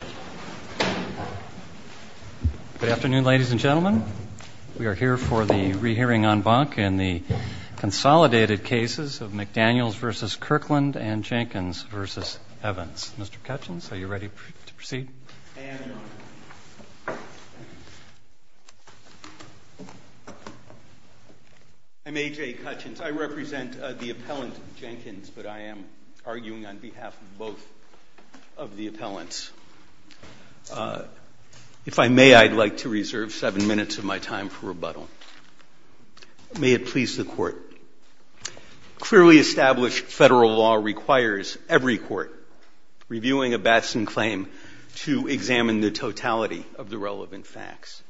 Good afternoon, ladies and gentlemen. We are here for the re-hearing en banc in the consolidated cases of McDaniels v. Kirkland and Jenkins v. Evans. Mr. Kutchins, are you ready to proceed? I'm A.J. Kutchins. I represent the appellant Jenkins, but I am arguing on behalf of both of the appellants. If I may, I'd like to reserve seven minutes of my time for rebuttal. May it please the court. Clearly established federal law requires every court reviewing a Batson claim to examine the totality of the relevant facts.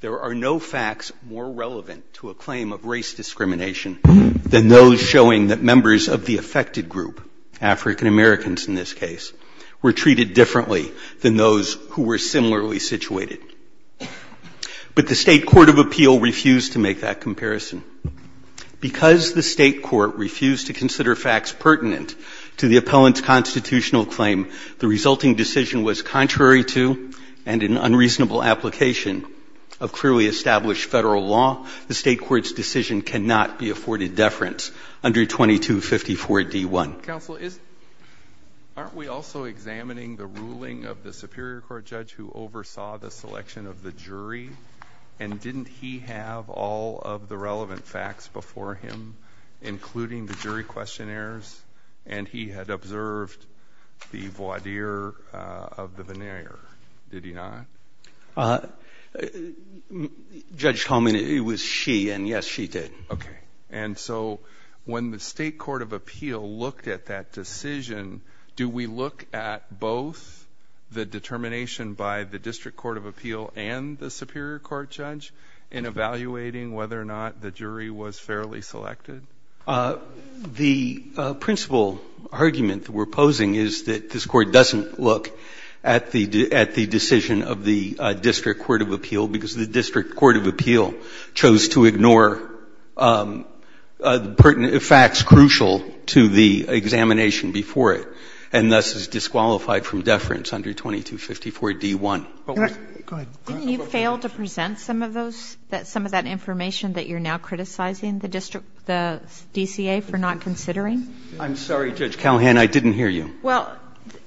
There are no facts more relevant to a claim of race discrimination than those showing that members of the affected group, African Americans in this case, were treated differently than those who were similarly situated. But the state court of appeal refused to make that comparison. Because the state court refused to consider facts pertinent to the appellant's constitutional claim, the resulting decision was contrary to and in unreasonable application of clearly established federal law. The state court's decision cannot be afforded deference under 2254 D.1. Counsel, aren't we also examining the ruling of the Superior Court judge who oversaw the selection of the jury? And didn't he have all of the relevant facts before him, including the jury questionnaires? And he had observed the voir dire of the veneer, did he not? Judge Coleman, it was she, and yes, she did. Okay, and so when the state court of appeal looked at that decision, do we look at both the determination by the district court of appeal and the Superior Court judge in evaluating whether or not the jury was fairly selected? The principal argument we're posing is that this court doesn't look at the decision of the district court of appeal because the district court of appeal chose to ignore facts crucial to the examination before it, and thus is disqualified from deference under 2254 D.1. Didn't you fail to present some of that information that you're now criticizing the DCA for not considering? I'm sorry, Judge Callahan, I didn't hear you. Well,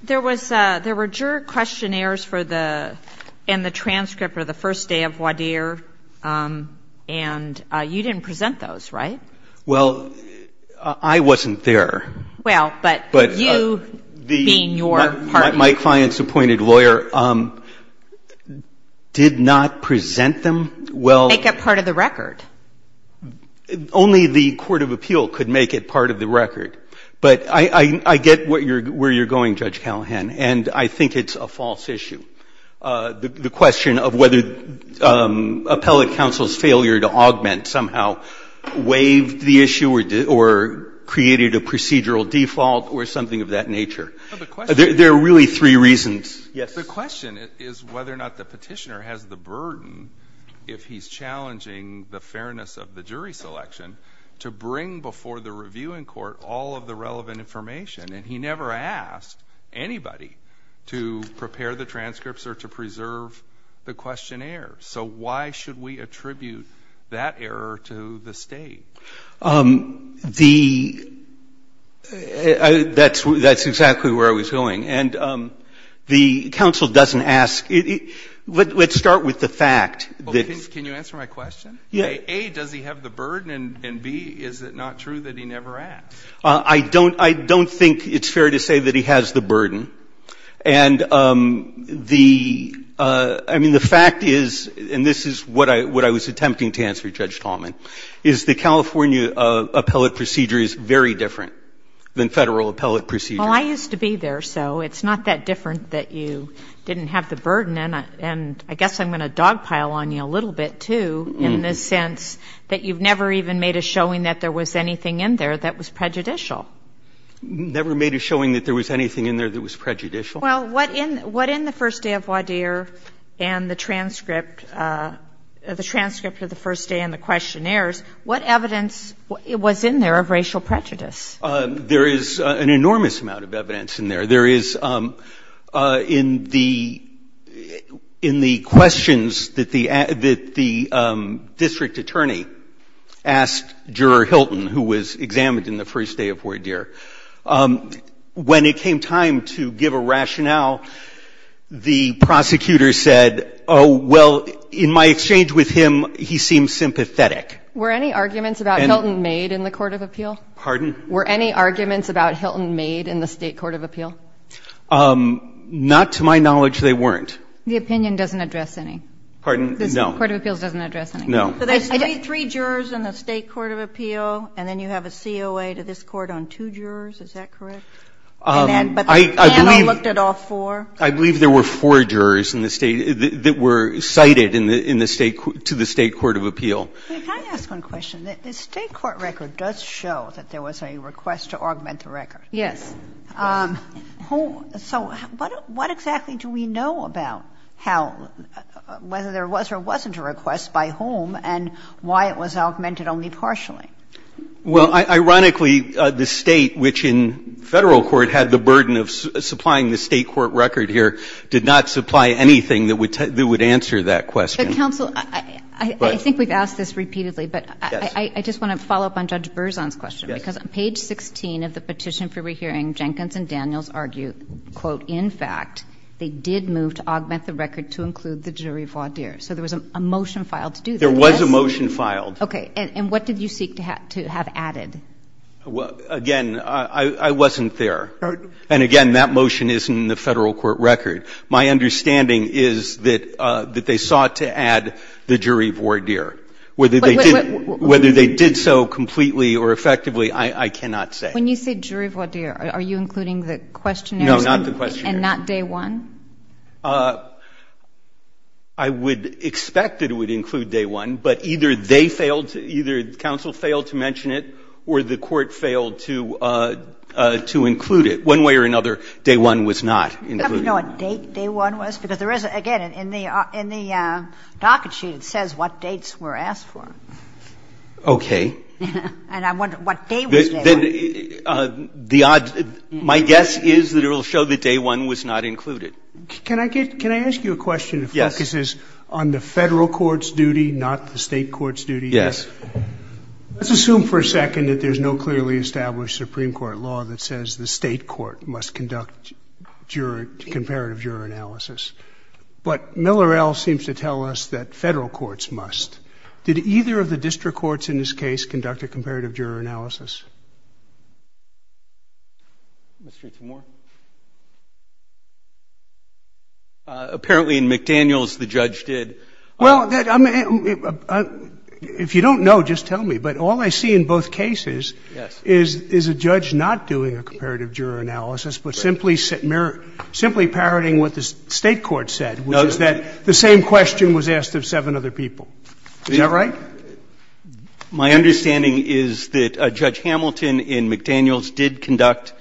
there were jury questionnaires and the transcript for the first day of voir dire, and you didn't present those, right? Well, I wasn't there. Well, but you being your partner. My client's appointed lawyer did not present them well. Make it part of the record. Only the court of appeal could make it part of the record, but I get where you're going, Judge Callahan, and I think it's a false issue, the question of whether appellate counsel's failure to augment somehow waived the issue or created a procedural default or something of that nature. There are really three reasons. The question is whether or not the petitioner has the burden, if he's challenging the fairness of the jury selection, to bring before the reviewing court all of the relevant information, and he never asked anybody to prepare the transcripts or to preserve the questionnaire, so why should we attribute that error to the state? That's exactly where I was going, and the counsel doesn't ask. Let's start with the fact. Can you answer my question? Yes. A, does he have the burden, and B, is it not true that he never asked? I don't think it's fair to say that he has the burden, and the fact is, and this is what I was attempting to answer, Judge Tallman, is the California appellate procedure is very different than federal appellate procedure. Well, I used to be there, so it's not that different that you didn't have the burden, and I guess I'm going to dogpile on you a little bit, too, in the sense that you've never even made a showing that there was anything in there that was prejudicial. Never made a showing that there was anything in there that was prejudicial? Well, what in the first day of voir dire and the transcript of the first day and the questionnaires, what evidence was in there of racial prejudice? There is an enormous amount of evidence in there. There is, in the questions that the district attorney asked Juror Hilton, who was examined in the first day of voir dire, when it came time to give a rationale, the prosecutor said, oh, well, in my exchange with him, he seemed sympathetic. Were any arguments about Hilton made in the Court of Appeal? Pardon? Were any arguments about Hilton made in the State Court of Appeal? Not to my knowledge, they weren't. The opinion doesn't address any? Pardon? No. The Court of Appeal doesn't address any? No. So there's three jurors in the State Court of Appeal, and then you have a COA to this court on two jurors, is that correct? I believe there were four jurors that were cited to the State Court of Appeal. Can I ask one question? The State Court record does show that there was a request to augment the record. Yes. So what exactly do we know about whether there was or wasn't a request by whom and why it was augmented only partially? Well, ironically, the state, which in federal court had the burden of supplying the state court record here, did not supply anything that would answer that question. Counsel, I think we've asked this repeatedly, but I just want to follow up on Judge Berzon's question because on page 16 of the petition for rehearing, Jenkins and Daniels argue, quote, in fact, they did move to augment the record to include the jury voir dire. So there was a motion filed to do that. There was a motion filed. Okay. And what did you seek to have added? Again, I wasn't there. And, again, that motion is in the federal court record. My understanding is that they sought to add the jury voir dire. Whether they did so completely or effectively, I cannot say. When you say jury voir dire, are you including the questionnaire? No, not the questionnaire. And not day one? I would expect it would include day one, but either they failed, either counsel failed to mention it or the court failed to include it. One way or another, day one was not included. Do you happen to know what date day one was? Yes, because there is, again, in the docket sheet it says what dates were asked for. Okay. And I'm wondering what day was it. My guess is that it will show that day one was not included. Can I ask you a question that focuses on the federal court's duty, not the state court's duty? Yes. Let's assume for a second that there's no clearly established Supreme Court law that says the state court must conduct comparative juror analysis. But Miller L. seems to tell us that federal courts must. Did either of the district courts in this case conduct a comparative juror analysis? Let's read some more. Apparently in McDaniels the judge did. Well, if you don't know, just tell me. But all I see in both cases is a judge not doing a comparative juror analysis but simply parroting what the state court said, which is that the same question was asked of seven other people. Is that right? My understanding is that Judge Hamilton in McDaniels did conduct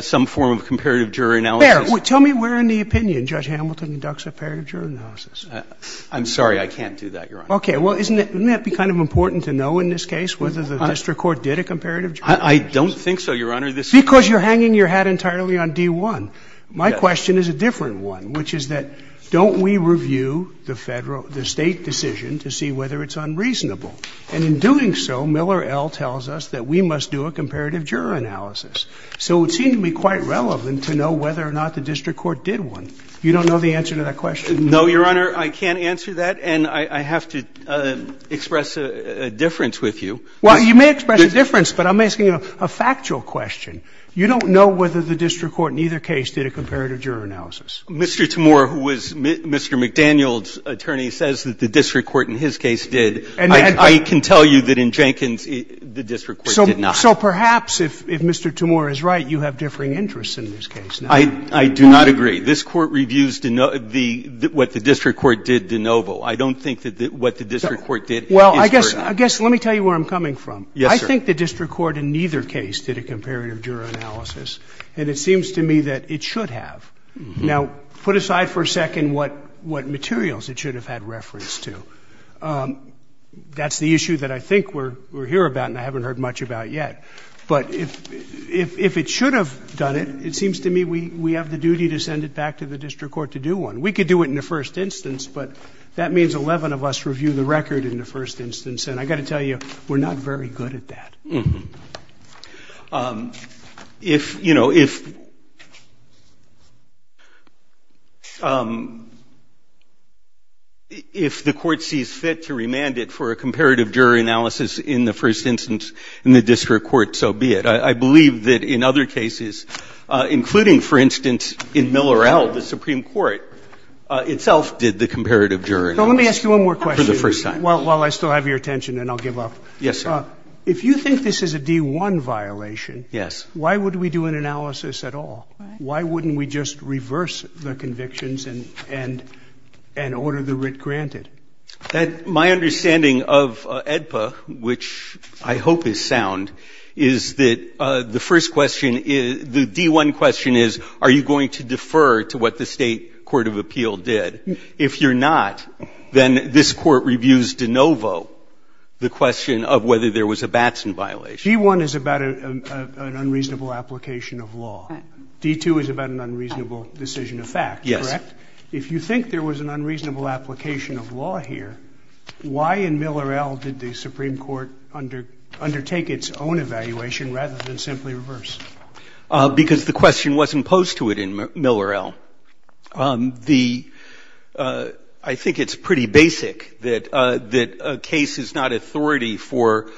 some form of comparative juror analysis. Tell me where in the opinion Judge Hamilton conducts a comparative juror analysis. I'm sorry. I can't do that, Your Honor. Okay. Well, isn't it kind of important to know in this case whether the district court did a comparative juror analysis? I don't think so, Your Honor. Because you're hanging your hat entirely on D-1. My question is a different one, which is that don't we review the state decision to see whether it's unreasonable? And in doing so, Miller L. tells us that we must do a comparative juror analysis. So it would seem to be quite relevant to know whether or not the district court did one. You don't know the answer to that question? No, Your Honor. I can't answer that, and I have to express a difference with you. Well, you may express a difference, but I'm asking you a factual question. You don't know whether the district court in either case did a comparative juror analysis. Mr. Timore, who was Mr. McDaniel's attorney, says that the district court in his case did. I can tell you that in Jenkins the district court did not. So perhaps if Mr. Timore is right, you have differing interests in this case. I do not agree. This Court reviews what the district court did de novo. I don't think that what the district court did is correct. Well, I guess let me tell you where I'm coming from. Yes, sir. I think the district court in either case did a comparative juror analysis, and it seems to me that it should have. Now, put aside for a second what materials it should have had reference to. That's the issue that I think we're here about and I haven't heard much about yet. But if it should have done it, it seems to me we have the duty to send it back to the district court to do one. We could do it in the first instance, but that means 11 of us review the record in the first instance, and I've got to tell you we're not very good at that. If, you know, if the court sees fit to remand it for a comparative jury analysis in the first instance in the district court, so be it. I believe that in other cases, including, for instance, in Millerell, the Supreme Court itself did the comparative jury for the first time. So let me ask you one more question while I still have your attention and I'll give up. Yes, sir. Now, if you think this is a D-1 violation, why would we do an analysis at all? Why wouldn't we just reverse the convictions and order the writ granted? My understanding of AEDPA, which I hope is sound, is that the first question, the D-1 question is, are you going to defer to what the state court of appeal did? If you're not, then this court reviews de novo the question of whether there was a Batson violation. D-1 is about an unreasonable application of law. D-2 is about an unreasonable decision of fact, correct? Yes. If you think there was an unreasonable application of law here, why in Millerell did the Supreme Court undertake its own evaluation rather than simply reverse? Because the question wasn't posed to it in Millerell. I think it's pretty basic that a case is not authority for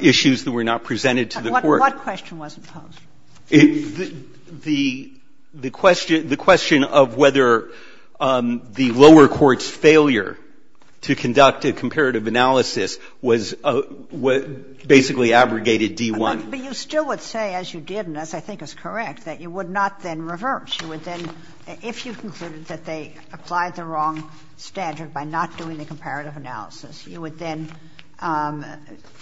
issues that were not presented to the court. What question wasn't posed? The question of whether the lower court's failure to conduct a comparative analysis was basically abrogated D-1. But you still would say, as you did and as I think is correct, that you would not then reverse. You would then, if you concluded that they applied the wrong standard by not doing the comparative analysis, you would then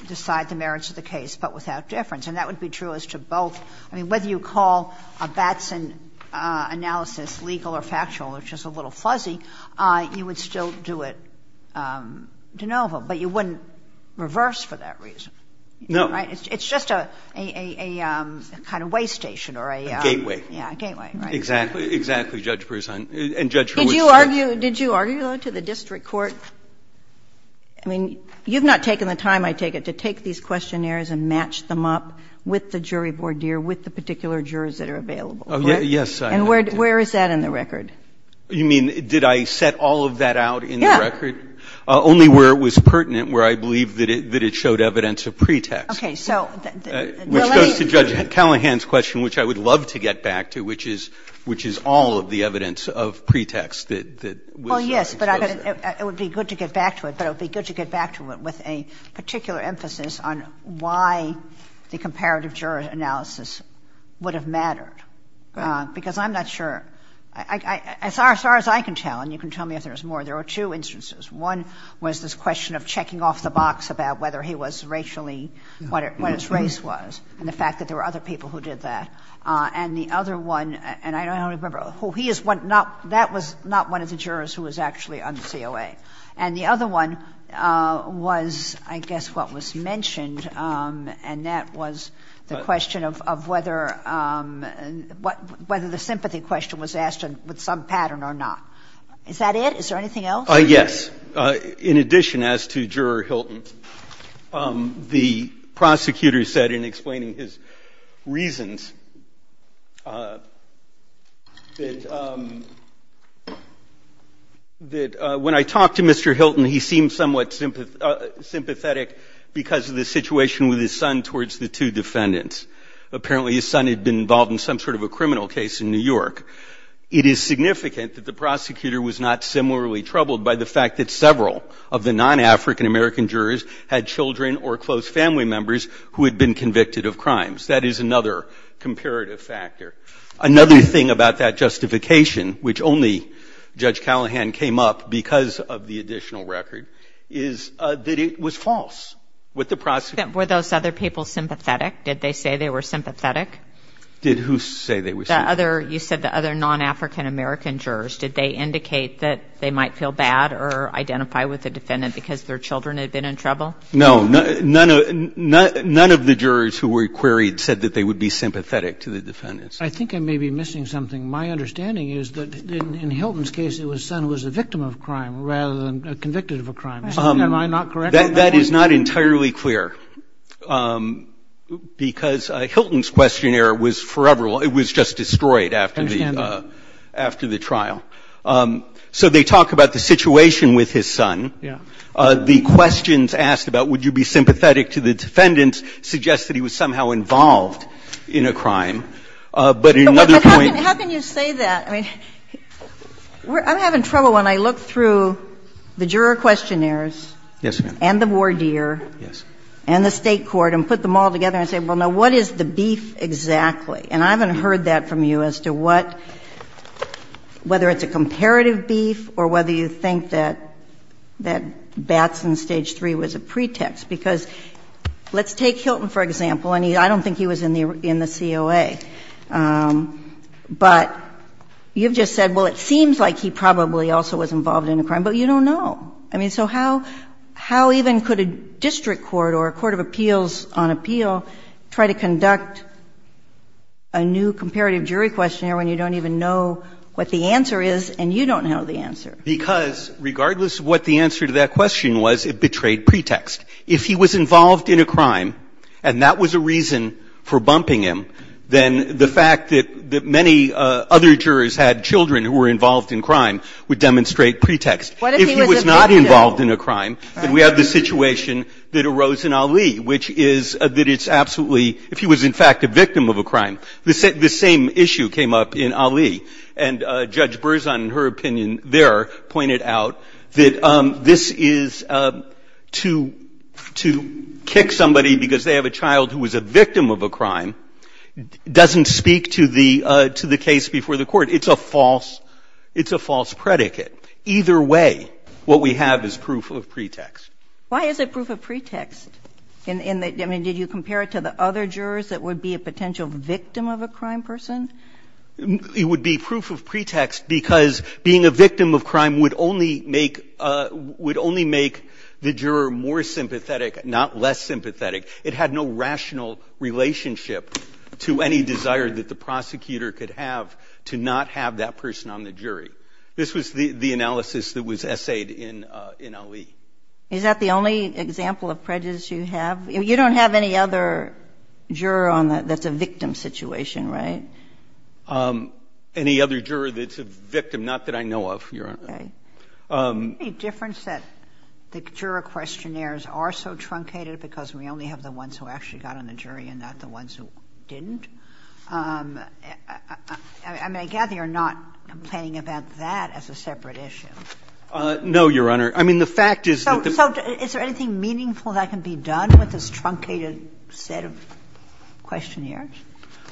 decide the merits of the case but without deference. And that would be true as to both. I mean, whether you call a Batson analysis legal or factual, which is a little fuzzy, you would still do it de novo. But you wouldn't reverse for that reason. No. It's just a kind of way station or a — A gateway. Yeah, a gateway. Exactly. Exactly, Judge Broussard. Did you argue it to the district court? I mean, you've not taken the time, I take it, to take these questionnaires and match them up with the jury voir dire, with the particular jurors that are available. Yes, I have. And where is that in the record? You mean, did I set all of that out in the record? Yeah. Only where it was pertinent, where I believe that it showed evidence of pretext. Okay, so — Which goes to Judge Callahan's question, which I would love to get back to, which is all of the evidence of pretext that — Well, yes, but it would be good to get back to it. But it would be good to get back to it with a particular emphasis on why the comparative jury analysis would have mattered. Because I'm not sure — as far as I can tell, and you can tell me if there's more, there are two instances. One was this question of checking off the box about whether he was racially — what his race was, and the fact that there were other people who did that. And the other one — and I don't remember who he is — that was not one of the jurors who was actually on CLA. And the other one was, I guess, what was mentioned, and that was the question of whether the sympathy question was asked with some pattern or not. Is that it? Is there anything else? Yes. In addition, as to Juror Hilton, the prosecutor said in explaining his reasons that, when I talked to Mr. Hilton, he seemed somewhat sympathetic because of the situation with his son towards the two defendants. Apparently his son had been involved in some sort of a criminal case in New York. It is significant that the prosecutor was not similarly troubled by the fact that several of the non-African American jurors had children or close family members who had been convicted of crimes. That is another comparative factor. Another thing about that justification, which only Judge Callahan came up because of the additional record, is that it was false with the prosecutor. Were those other people sympathetic? Did they say they were sympathetic? Did who say they were sympathetic? You said the other non-African American jurors. Did they indicate that they might feel bad or identify with the defendant because their children had been in trouble? No. None of the jurors who were queried said that they would be sympathetic to the defendants. I think I may be missing something. My understanding is that, in Hilton's case, his son was a victim of a crime rather than convicted of a crime. Am I not correct? That is not entirely clear because Hilton's questionnaire was just destroyed after the trial. So they talk about the situation with his son. The questions asked about would you be sympathetic to the defendants suggests that he was somehow involved in a crime. How can you say that? I'm having trouble when I look through the juror questionnaires and the voir dire and the state court and put them all together and say, well, now, what is the beef exactly? And I haven't heard that from you as to whether it's a comparative beef or whether you think that that's in stage three was a pretext. Because let's take Hilton, for example. I don't think he was in the COA. But you've just said, well, it seems like he probably also was involved in a crime, but you don't know. So how even could a district court or a court of appeals on appeal try to conduct a new comparative jury questionnaire when you don't even know what the answer is and you don't know the answer? Because regardless of what the answer to that question was, it betrayed pretext. If he was involved in a crime and that was a reason for bumping him, then the fact that many other jurors had children who were involved in crime would demonstrate pretext. If he was not involved in a crime, then we have the situation that arose in Ali, which is that it's absolutely, if he was in fact a victim of a crime, the same issue came up in Ali. And Judge Berzon, in her opinion there, pointed out that this is to kick somebody because they have a child who was a victim of a crime doesn't speak to the case before the court. It's a false predicate. Either way, what we have is proof of pretext. Why is it proof of pretext? I mean, did you compare it to the other jurors that would be a potential victim of a crime person? It would be proof of pretext because being a victim of crime would only make the juror more sympathetic, not less sympathetic. It had no rational relationship to any desire that the prosecutor could have to not have that person on the jury. This was the analysis that was essayed in Ali. Is that the only example of prejudice you have? You don't have any other juror that's a victim situation, right? Any other juror that's a victim? Not that I know of, Your Honor. Is there any difference that the juror questionnaires are so truncated because we only have the ones who actually got on the jury and not the ones who didn't? I gather you're not playing about that as a separate issue. No, Your Honor. So is there anything meaningful that can be done with this truncated set of questionnaires?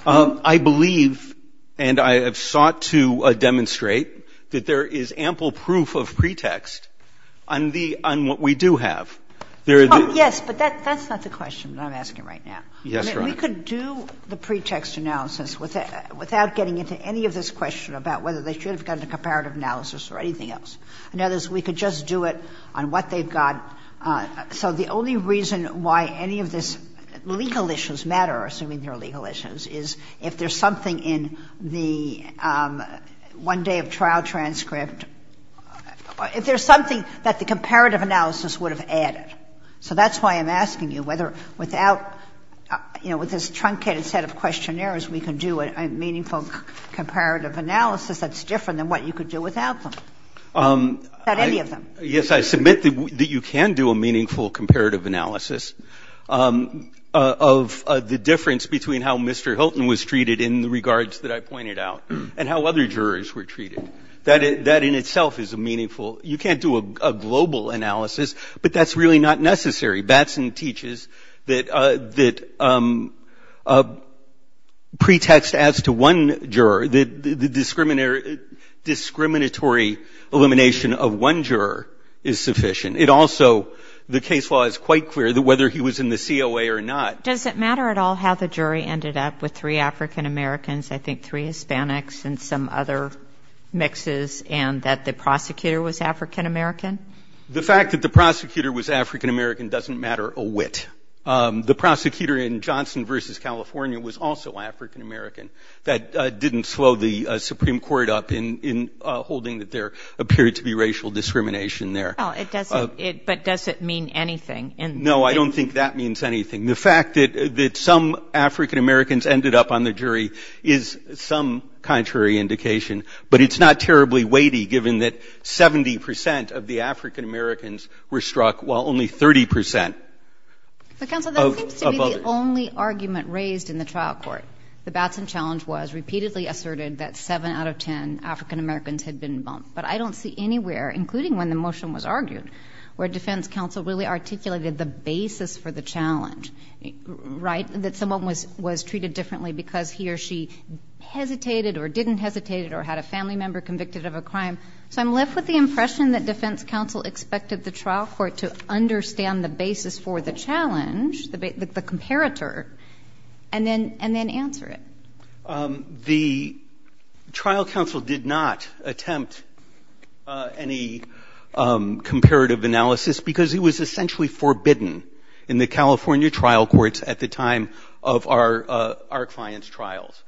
I believe and I have sought to demonstrate that there is ample proof of pretext on what we do have. Yes, but that's not the question that I'm asking right now. We could do the pretext analysis without getting into any of this question about whether they should have gone to comparative analysis or anything else. In other words, we could just do it on what they've got. So the only reason why any of this legal issues matter, assuming they're legal issues, is if there's something in the one day of trial transcript, if there's something that the comparative analysis would have added. So that's why I'm asking you whether without, you know, with this truncated set of questionnaires, we can do a meaningful comparative analysis that's different than what you could do without them, without any of them. Yes, I submit that you can do a meaningful comparative analysis of the difference between how Mr. Hilton was treated in the regards that I pointed out and how other jurors were treated. That in itself is a meaningful. You can't do a global analysis, but that's really not necessary. Batson teaches that pretext adds to one juror. The discriminatory elimination of one juror is sufficient. It also, the case law is quite clear that whether he was in the COA or not. Does it matter at all how the jury ended up with three African Americans, I think three Hispanics, and some other mixes, and that the prosecutor was African American? The fact that the prosecutor was African American doesn't matter a whit. The prosecutor in Johnson v. California was also African American. That didn't slow the Supreme Court up in holding that there appeared to be racial discrimination there. But does it mean anything? No, I don't think that means anything. The fact that some African Americans ended up on the jury is some contrary indication, but it's not terribly weighty given that 70 percent of the African Americans were struck, while only 30 percent of others. Counsel, the only argument raised in the trial court, the Batson challenge, was repeatedly asserted that seven out of ten African Americans had been bumped. But I don't see anywhere, including when the motion was argued, where defense counsel really articulated the basis for the challenge, right, that someone was treated differently because he or she hesitated or didn't hesitate or had a family member convicted of a crime. So I'm left with the impression that defense counsel expected the trial court to understand the basis for the challenge, the comparator, and then answer it. The trial counsel did not attempt any comparative analysis because it was essentially forbidden in the California trial courts at the time of our client's trials,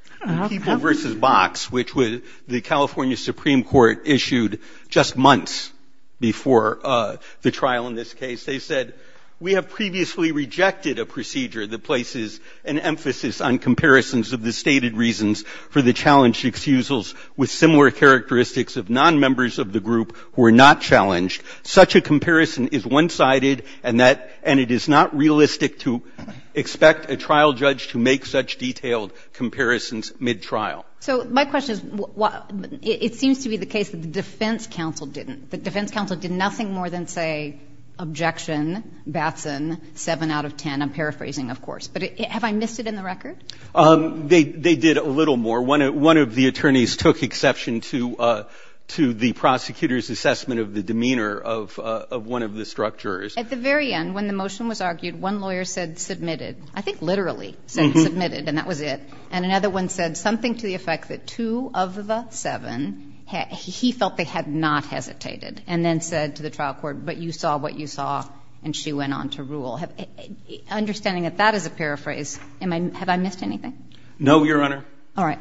which was the California Supreme Court issued just months before the trial in this case. They said, we have previously rejected a procedure that places an emphasis on comparisons of the stated reasons for the challenged excusals with similar characteristics of non-members of the group who are not challenged. Such a comparison is one-sided, and it is not realistic to expect a trial judge to make such detailed comparisons mid-trial. So my question is, it seems to be the case that the defense counsel didn't. The defense counsel did nothing more than say, objection, Batson, seven out of ten. I'm paraphrasing, of course. But have I missed it in the record? They did a little more. One of the attorneys took exception to the prosecutor's assessment of the demeanor of one of the structurers. At the very end, when the motion was argued, one lawyer said, submitted. I think literally said, submitted, and that was it. And another one said something to the effect that two of the seven, he felt they had not hesitated, and then said to the trial court, but you saw what you saw, and she went on to rule. Understanding that that is a paraphrase, have I missed anything? No, Your Honor. All right.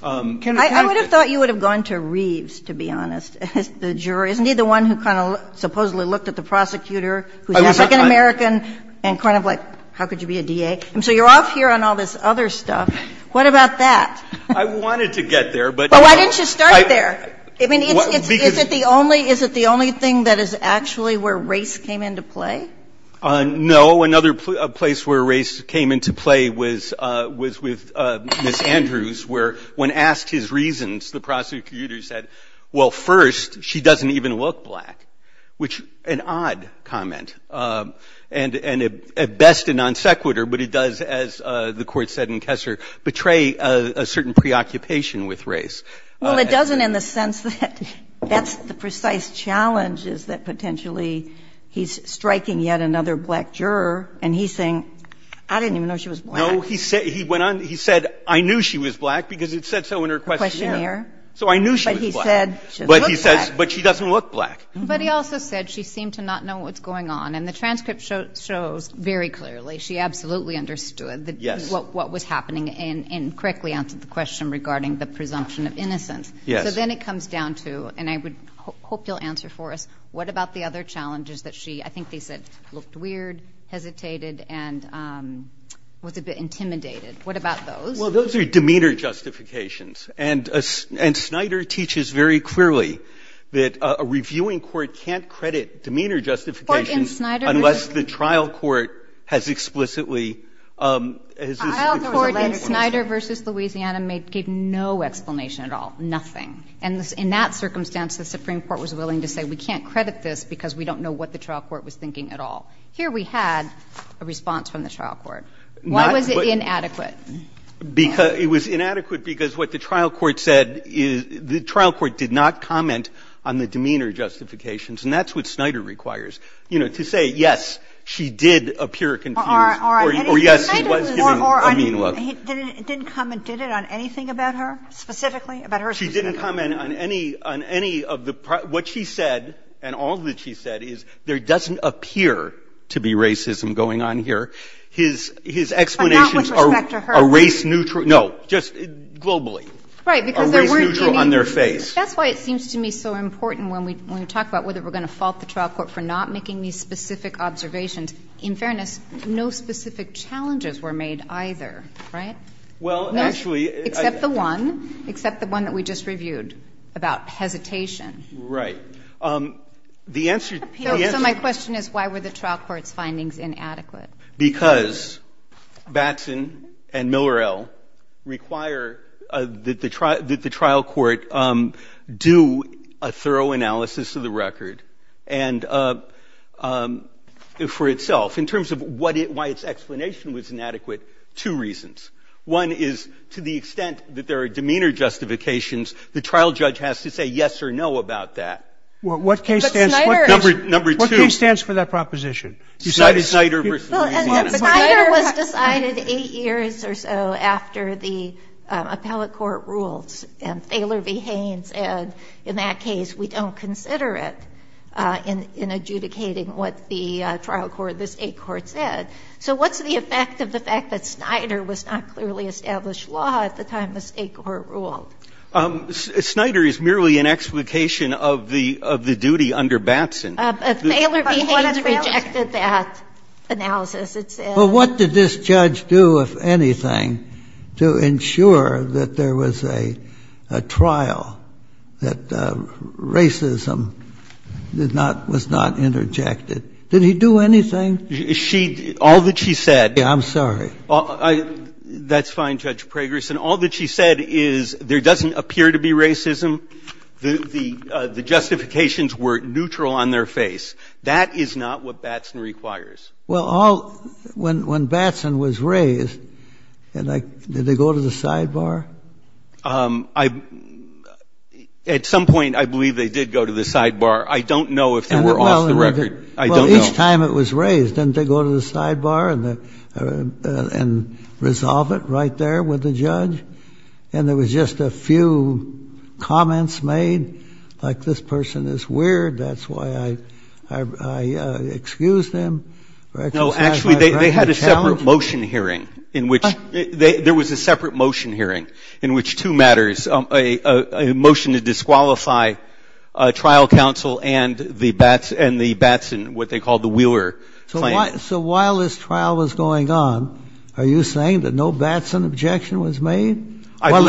I would have thought you would have gone to Reeves, to be honest. The juror. Isn't he the one who kind of supposedly looked at the prosecutor, who's Mexican-American, and kind of like, how could you be a DA? And so you're off here on all this other stuff. What about that? I wanted to get there. Well, why didn't you start there? Is it the only thing that is actually where race came into play? No. Another place where race came into play was with Ms. Andrews, where when asked his reasons, the prosecutor said, well, first, she doesn't even look black, which an odd comment. And at best a non-sequitur, but it does, as the court said in Kessler, betray a certain preoccupation with race. Well, it doesn't in the sense that that's the precise challenge, is that potentially he's striking yet another black juror, and he's saying, I didn't even know she was black. No, he said, I knew she was black because it said so in her questionnaire. So I knew she was black. But he said, she doesn't look black. But he doesn't look black. And the transcript shows very clearly she absolutely understood what was happening, and correctly answered the question regarding the presumption of innocence. So then it comes down to, and I hope you'll answer for us, what about the other challenges that she, I think they said, looked weird, hesitated, and was a bit intimidated. What about those? Well, those are demeanor justifications. And Snyder teaches very clearly that a reviewing court can't credit demeanor justifications unless the trial court has explicitly. The trial court in Snyder v. Louisiana gave no explanation at all, nothing. And in that circumstance, the Supreme Court was willing to say, we can't credit this because we don't know what the trial court was thinking at all. Here we had a response from the trial court. Why was it inadequate? It was inadequate because what the trial court said is, the trial court did not comment on the demeanor justifications. And that's what Snyder requires. You know, to say, yes, she did appear confused, or yes, he was giving a mean look. Or he didn't comment, did it, on anything about her specifically? She didn't comment on any of the, what she said, and all that she said is, there doesn't appear to be racism going on here. His explanations are race-neutral. No, just globally. Are race-neutral on their face. That's why it seems to me so important when we talk about whether we're going to fault the trial court for not making these specific observations. In fairness, no specific challenges were made either. Right? Well, actually. Except the one. Except the one that we just reviewed about hesitation. Right. So my question is, why were the trial court's findings inadequate? Because Batson and Millerell require that the trial court do a thorough analysis of the record. And for itself, in terms of why its explanation was inadequate, two reasons. One is, to the extent that there are demeanor justifications, the trial judge has to say yes or no about that. What case stands for that proposition? Snyder versus Millerell. Snyder was decided eight years or so after the appellate court rules. And Thaler v. Haynes said, in that case, we don't consider it in adjudicating what the trial court, the state court said. So what's the effect of the fact that Snyder was not clearly established law at the time the state court ruled? Snyder is merely an explication of the duty under Batson. Thaler v. Haynes rejected that analysis. Well, what did this judge do, if anything, to ensure that there was a trial, that racism was not interjected? Did he do anything? All that she said. I'm sorry. That's fine, Judge Pragerson. All that she said is, there doesn't appear to be racism. The justifications were neutral on their face. That is not what Batson requires. Well, when Batson was raised, did they go to the sidebar? At some point, I believe they did go to the sidebar. I don't know if they were off the record. I don't know. Well, each time it was raised, didn't they go to the sidebar and resolve it right there with the judge? And there was just a few comments made, like this person is weird, that's why I excused him. No, actually, they had a separate motion hearing in which two matters, a motion to disqualify trial counsel and the Batson, what they called the Wheeler claim. So while this trial was going on, are you saying that no Batson objection was made while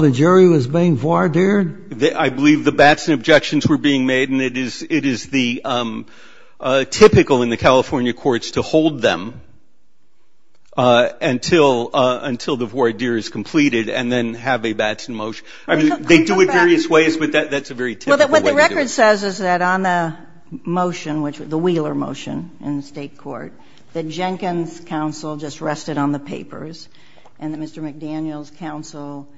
the jury was being voir dire? I believe the Batson objections were being made, and it is typical in the California courts to hold them until the voir dire is completed and then have a Batson motion. They do it various ways, but that's a very typical way. What the record says is that on the motion, the Wheeler motion in the state court, the Jenkins counsel just rested on the papers, and the Mr. McDaniels counsel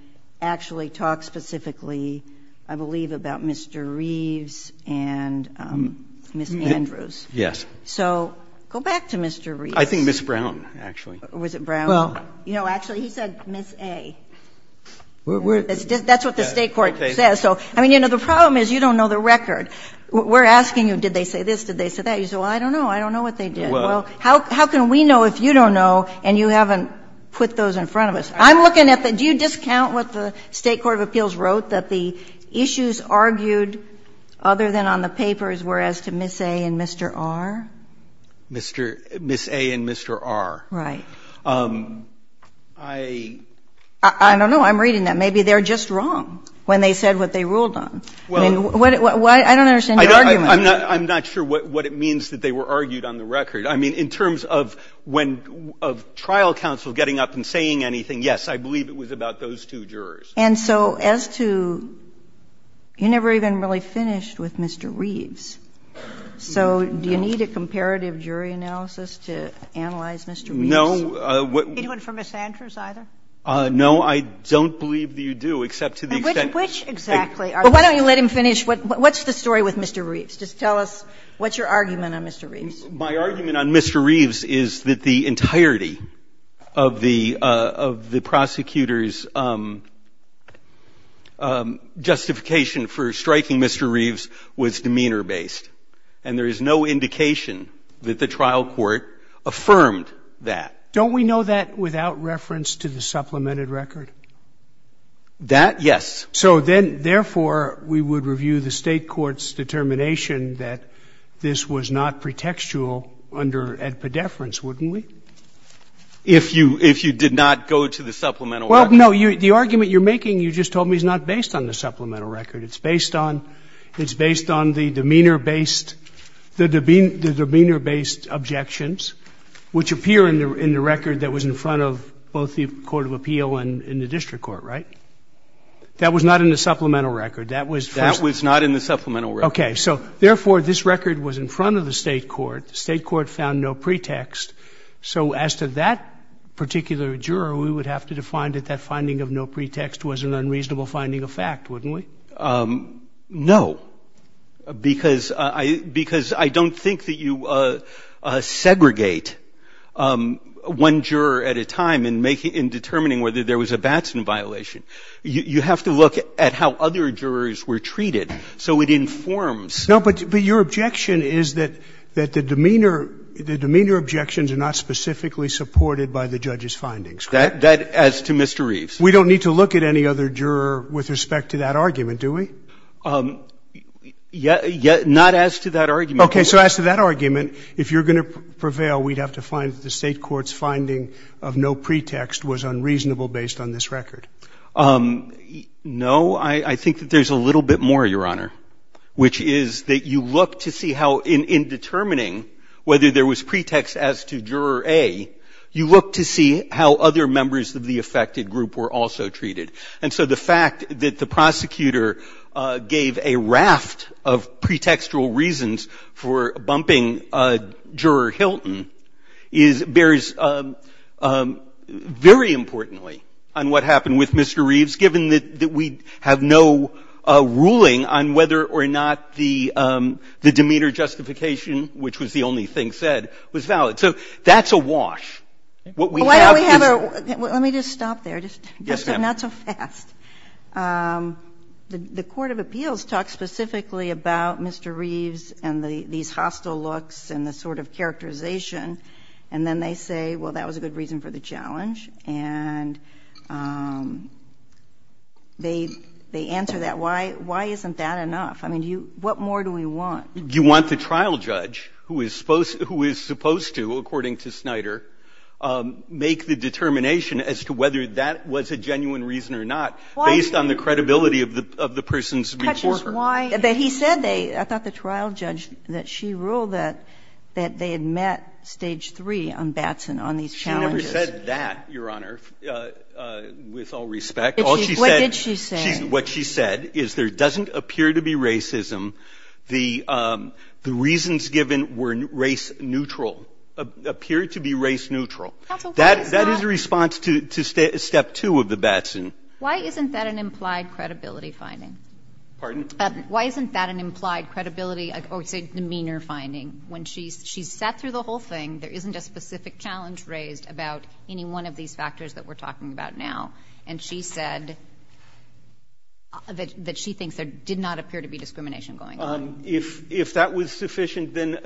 actually talked specifically, I believe, about Mr. Reeves and Ms. Andrews. Yes. So go back to Mr. Reeves. I think Ms. Brown, actually. Was it Brown? Well, you know, actually, he said Ms. A. That's what the state court says. I mean, you know, the problem is you don't know the record. We're asking you, did they say this? Did they say that? You say, well, I don't know. I don't know what they did. Well, how can we know if you don't know and you haven't put those in front of us? Do you discount what the state court of appeals wrote, that the issues argued other than on the papers were as to Ms. A. and Mr. R.? Ms. A. and Mr. R.? Right. I don't know. I'm reading them. Maybe they're just wrong when they said what they ruled on. I don't understand their argument. I'm not sure what it means that they were argued on the record. I mean, in terms of trial counsel getting up and saying anything, yes, I believe it was about those two jurors. And so as to you never even really finished with Mr. Reeves. So do you need a comparative jury analysis to analyze Mr. Reeves? No. He went for Ms. Andrews, either? No, I don't believe that you do, except to the extent. Which exactly? Why don't you let him finish? What's the story with Mr. Reeves? Just tell us what's your argument on Mr. Reeves. My argument on Mr. Reeves is that the entirety of the prosecutor's justification for striking Mr. Reeves was demeanor-based. And there is no indication that the trial court affirmed that. Don't we know that without reference to the supplemented record? That? Yes. So then, therefore, we would review the state court's determination that this was not pretextual at pedeference, wouldn't we? If you did not go to the supplemental record? Well, no, the argument you're making, you just told me, is not based on the supplemental record. It's based on the demeanor-based objections, which appear in the record that was in front of both the court of appeal and the district court, right? That was not in the supplemental record. That was not in the supplemental record. Okay. So, therefore, this record was in front of the state court. The state court found no pretext. So as to that particular juror, we would have to define that that finding of no pretext was an unreasonable finding of fact, wouldn't we? No, because I don't think that you segregate one juror at a time in determining whether there was a Batson violation. You have to look at how other jurors were treated, so it informs. No, but your objection is that the demeanor objections are not specifically supported by the judge's findings. That, as to Mr. Reeves. We don't need to look at any other juror with respect to that argument, do we? Not as to that argument. Okay, so as to that argument, if you're going to prevail, we'd have to find that the state court's finding of no pretext was unreasonable based on this record. No, I think that there's a little bit more, Your Honor, which is that you look to see how in determining whether there was pretext as to juror A, you look to see how other members of the affected group were also treated. And so the fact that the prosecutor gave a raft of pretextual reasons for bumping Juror Hilton bears very importantly on what happened with Mr. Reeves, given that we have no ruling on whether or not the demeanor justification, which was the only thing said, was valid. So that's a wash. Let me just stop there. Not so fast. The Court of Appeals talked specifically about Mr. Reeves and these hostile looks and the sort of characterization. And then they say, well, that was a good reason for the challenge. And they answer that. Why isn't that enough? I mean, what more do we want? You want the trial judge, who is supposed to, according to Snyder, make the determination as to whether that was a genuine reason or not, based on the credibility of the person's report. But he said they, I thought the trial judge, that she ruled that they had met stage three on Batson on these challenges. She never said that, Your Honor, with all respect. What did she say? What she said is there doesn't appear to be racism. The reasons given were race neutral, appear to be race neutral. That is a response to step two of the Batson. Why isn't that an implied credibility finding? Pardon? Why isn't that an implied credibility or demeanor finding? When she sat through the whole thing, there isn't a specific challenge raised about any one of these factors that we're talking about now. And she said that she thinks there did not appear to be discrimination going on. If that was sufficient, then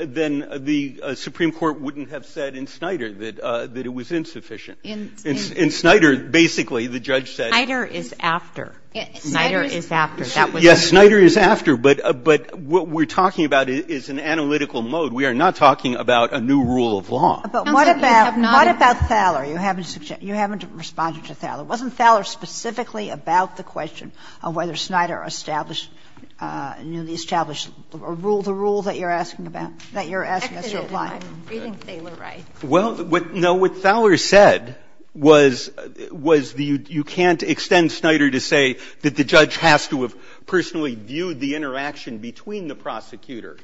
the Supreme Court wouldn't have said in Snyder that it was insufficient. In Snyder, basically, the judge said. Snyder is after. Snyder is after. Yes, Snyder is after. But what we're talking about is an analytical mode. We are not talking about a new rule of law. What about Fowler? You haven't responded to Fowler. Wasn't Fowler specifically about the question of whether Snyder established the rule that you're asking to apply? I think they were right. What Fowler said was you can't extend Snyder to say that the judge has to have personally viewed the interaction between the prosecutor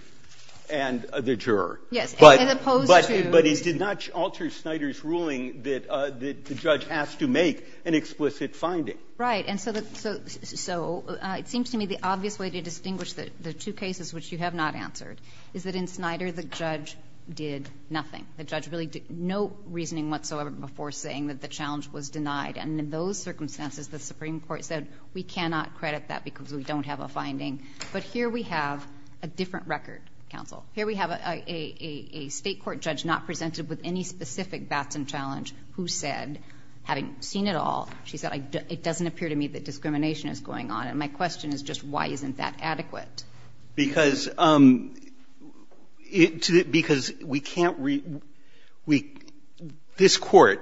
and the juror. But it did not alter Snyder's ruling that the judge has to make an explicit finding. Right. And so it seems to me the obvious way to distinguish the two cases which you have not answered is that in Snyder the judge did nothing. The judge really did no reasoning whatsoever before saying that the challenge was denied. And in those circumstances, the Supreme Court said we cannot credit that because we don't have a finding. But here we have a different record, counsel. Here we have a state court judge not presented with any specific Batson challenge who said, having seen it all, she said it doesn't appear to me that discrimination is going on. And my question is just why isn't that adequate? Because we can't – this court,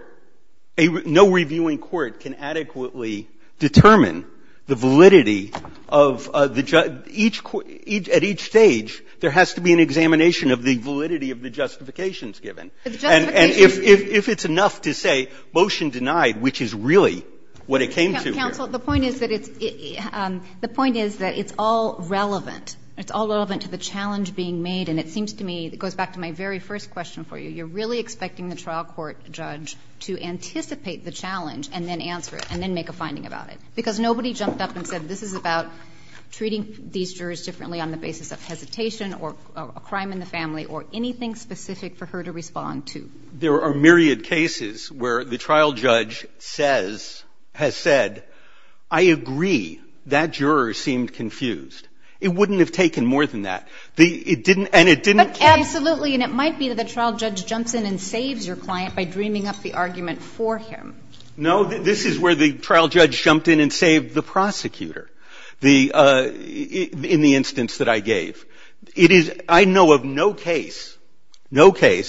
no reviewing court can adequately determine the validity of – at each stage, there has to be an examination of the validity of the justifications given. And if it's enough to say motion denied, which is really what it came to. Counsel, the point is that it's all relevant. It's all relevant to the challenge being made. And it seems to me – it goes back to my very first question for you. You're really expecting the trial court judge to anticipate the challenge and then answer it and then make a finding about it because nobody jumped up and said this is about treating these jurors differently on the basis of hesitation or a crime in the family or anything specific for her to respond to. There are myriad cases where the trial judge has said, I agree, that juror seemed confused. It wouldn't have taken more than that. Absolutely, and it might be that the trial judge jumps in and saves your client by dreaming up the argument for him. No, this is where the trial judge jumped in and saved the prosecutor in the instance that I gave. I know of no case in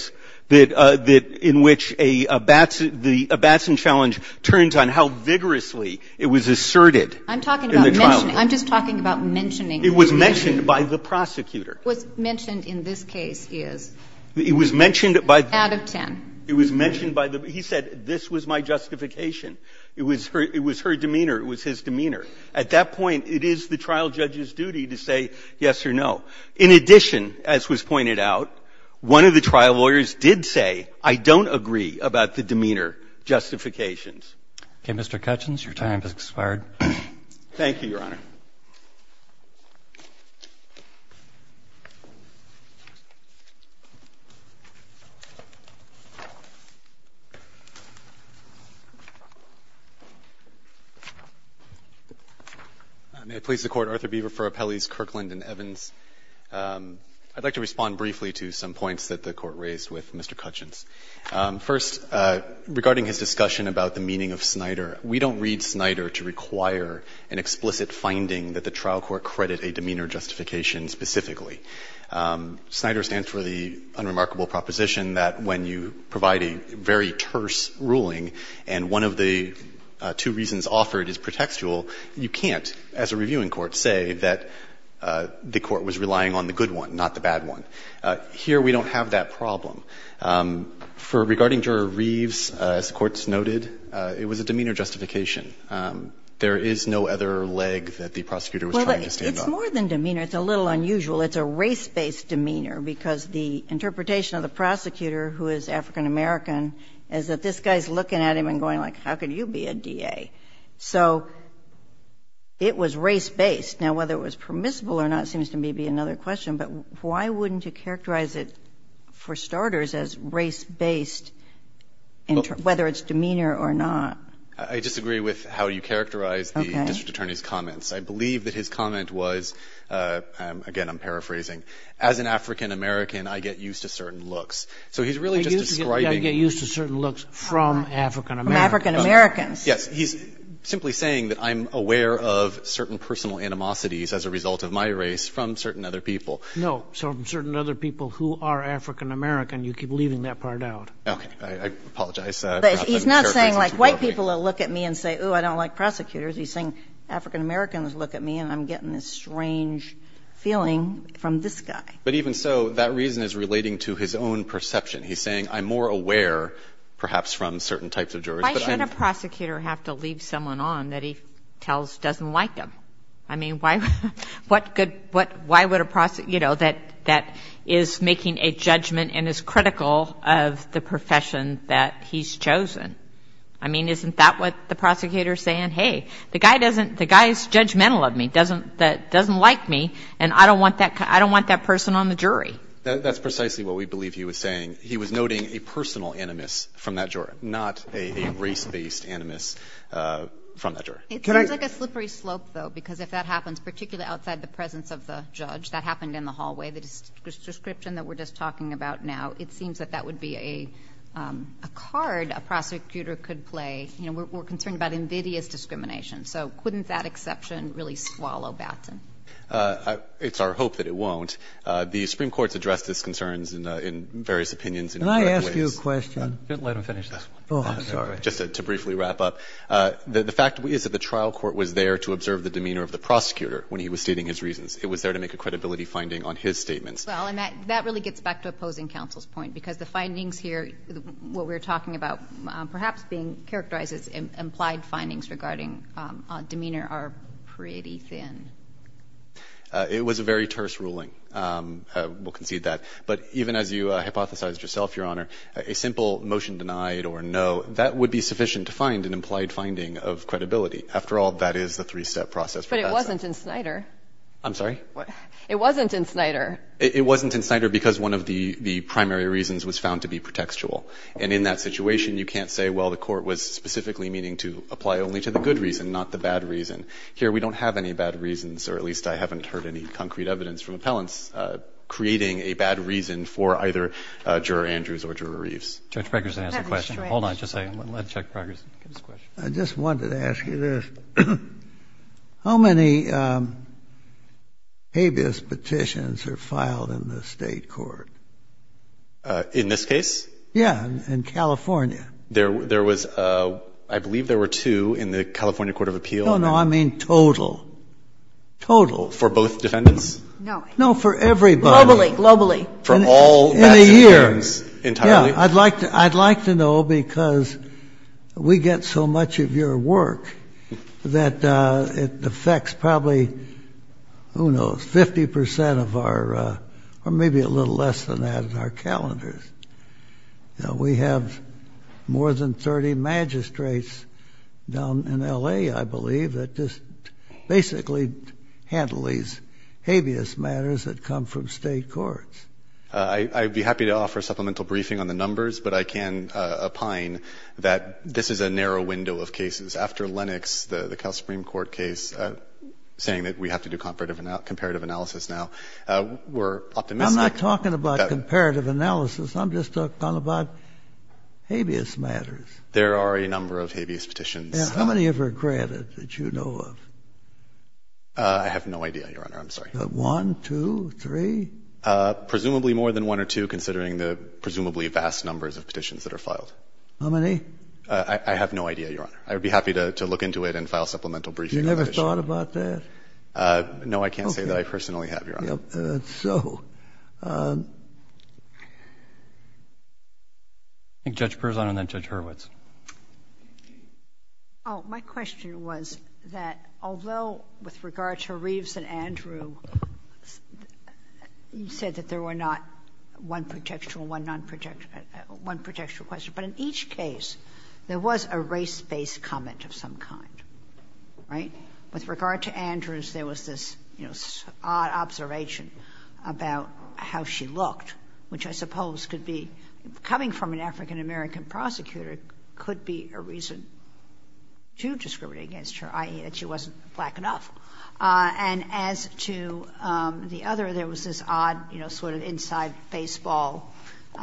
which a Batson challenge turns on how vigorously it was asserted. I'm just talking about mentioning. It was mentioned by the prosecutor. What's mentioned in this case is out of ten. It was mentioned by – he said this was my justification. It was her demeanor. It was his demeanor. At that point, it is the trial judge's duty to say yes or no. In addition, as was pointed out, one of the trial lawyers did say, I don't agree about the demeanor justifications. Okay, Mr. Cutchins, your time has expired. Thank you, Your Honor. May it please the Court, Arthur Beaver for Appellees Kirkland and Evans. I'd like to respond briefly to some points that the Court raised with Mr. Cutchins. First, regarding his discussion about the meaning of SNIDER, we don't read SNIDER to require an explicit finding that the trial court credit a demeanor justification specifically. SNIDER stands for the unremarkable proposition that when you provide a very terse ruling and one of the two reasons offered is pretextual, you can't, as a reviewing court, say that the court was relying on the good one, not the bad one. Here, we don't have that problem. Regarding Juror Reeves, as the Court noted, it was a demeanor justification. There is no other leg that the prosecutor was trying to stand on. It's more than demeanor. It's a little unusual. It's a race-based demeanor because the interpretation of the prosecutor, who is African American, is that this guy is looking at him and going, like, how could you be a DA? So it was race-based. Now, whether it was permissible or not seems to me to be another question, but why wouldn't you characterize it, for starters, as race-based, whether it's demeanor or not? I disagree with how you characterize the district attorney's comments. I believe that his comment was, again, I'm paraphrasing, as an African American, I get used to certain looks. You get used to certain looks from African Americans. He's simply saying that I'm aware of certain personal animosities as a result of my race from certain other people. No, certain other people who are African American. You keep leaving that part out. I apologize. He's not saying, like, white people will look at me and say, oh, I don't like prosecutors. He's saying African Americans look at me and I'm getting this strange feeling from this guy. But even so, that reason is relating to his own perception. He's saying I'm more aware, perhaps, from certain types of jurists. Why should a prosecutor have to leave someone on that he tells doesn't like him? I mean, why would a prosecutor, you know, that is making a judgment and is critical of the profession that he's chosen? I mean, isn't that what the prosecutor is saying? Hey, the guy is judgmental of me, doesn't like me, and I don't want that person on the jury. That's precisely what we believe he was saying. He was noting a personal animus from that juror, not a race-based animus from that juror. It seems like a slippery slope, though, because if that happens, particularly outside the presence of the judge, that happened in the hallway, the description that we're just talking about now, it seems that that would be a card a prosecutor could play. You know, we're concerned about indicative discrimination. So couldn't that exception really swallow Batson? It's our hope that it won't. The Supreme Court's addressed this concern in various opinions. Can I ask you a question? Let him finish this one. Oh, I'm sorry. Just to briefly wrap up. The fact is that the trial court was there to observe the demeanor of the prosecutor when he was stating his reasons. It was there to make a credibility finding on his statement. Well, and that really gets back to opposing counsel's point, because the findings here, what we're talking about, perhaps being characterized as implied findings regarding demeanor, are pretty thin. It was a very terse ruling. We'll concede that. But even as you hypothesized yourself, Your Honor, a simple motion denied or no, that would be sufficient to find an implied finding of credibility. After all, that is the three-step process. But it wasn't in Snyder. I'm sorry? It wasn't in Snyder. It wasn't in Snyder because one of the primary reasons was found to be pretextual. And in that situation, you can't say, well, the court was specifically meaning to apply only to the good reason, not the bad reason. Here, we don't have any bad reasons, or at least I haven't heard any concrete evidence from appellants, creating a bad reason for either Juror Andrews or Juror Reeves. Judge Bregersen has a question. Hold on just a second. Let's check Bregersen's question. I just wanted to ask you this. How many habeas petitions are filed in the state court? In this case? Yeah, in California. There was, I believe there were two in the California Court of Appeals. No, no, I mean total. Total. For both defendants? No. No, for everybody. Globally, globally. In a year. Entirely? Yeah. I'd like to know because we get so much of your work that it affects probably, who knows, 50% of our, or maybe a little less than that, of our calendars. We have more than 30 magistrates down in L.A., I believe, that just basically handle these habeas matters that come from state courts. I'd be happy to offer a supplemental briefing on the numbers, but I can opine that this is a narrow window of cases. After Lennox, the Cal Supreme Court case, saying that we have to do comparative analysis now, we're up to now. I'm not talking about comparative analysis. I'm just talking about habeas matters. There are a number of habeas petitions. How many have you ever granted that you know of? I have no idea, Your Honor. I'm sorry. One, two, three? Presumably more than one or two, considering the presumably vast numbers of petitions that are filed. How many? I have no idea, Your Honor. I would be happy to look into it and file a supplemental briefing. Have you ever thought about that? No, I can't say that I personally have, Your Honor. Okay. So. I think Judge Perzan and then Judge Hurwitz. My question was that although with regard to Reeves and Andrew, you said that there were not one projectual question, but in each case, there was a race-based comment of some kind, right? With regard to Andrews, there was this odd observation about how she looked, which I suppose could be, coming from an African American prosecutor, could be a reason to discriminate against her, i.e. that she wasn't black enough. And as to the other, there was this odd sort of inside baseball, you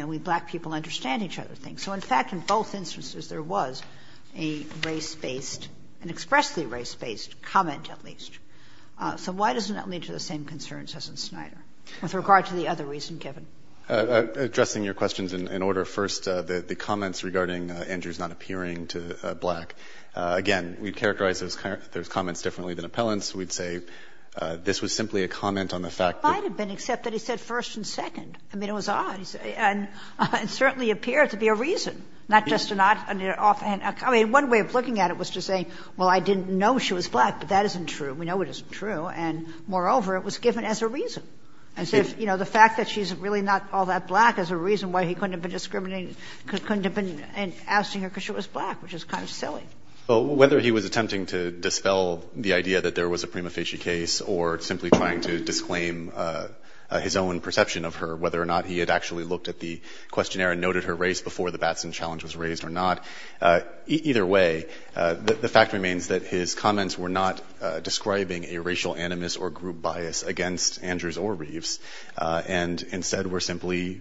know, we black people understand each other thing. So in fact, in both instances, there was a race-based, an expressly race-based comment at least. So why doesn't that lead to the same concerns as in Snyder? With regard to the other reason, Kevin. Addressing your questions in order. First, the comments regarding Andrews not appearing to black. Again, we characterize those comments differently than appellants. We'd say this was simply a comment on the fact that... It might have been, except that he said first and second. I mean, it was odd. And it certainly appears to be a reason. Not just to not... I mean, one way of looking at it was to say, well, I didn't know she was black, but that isn't true. We know it isn't true. And moreover, it was given as a reason. As if, you know, the fact that she's really not all that black is a reason why he couldn't have been discriminating, couldn't have been asking her because she was black, which is kind of silly. Well, whether he was attempting to dispel the idea that there was a prima facie case or simply trying to disclaim his own perception of her, whether or not he had actually looked at the questionnaire and noted her race before the Batson challenge was raised or not, either way, the fact remains that his comments were not describing a racial animus or group bias against Andrews or Reeves, and instead were simply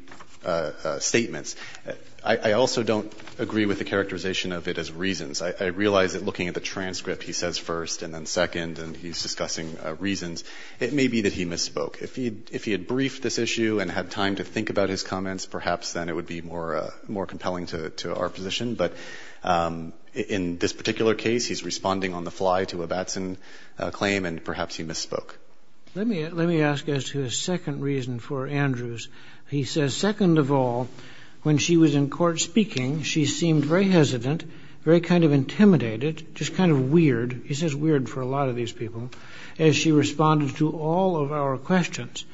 statements. I also don't agree with the characterization of it as reasons. I realize that looking at the transcript, he says first and then second, and he's discussing reasons. It may be that he misspoke. If he had briefed this issue and had time to think about his comments, perhaps then it would be more compelling to our position. But in this particular case, he's responding on the fly to a Batson claim, and perhaps he misspoke. Let me ask as to a second reason for Andrews. He says, second of all, when she was in court speaking, she seemed very hesitant, very kind of intimidated, just kind of weird. He says weird for a lot of these people, as she responded to all of our questions.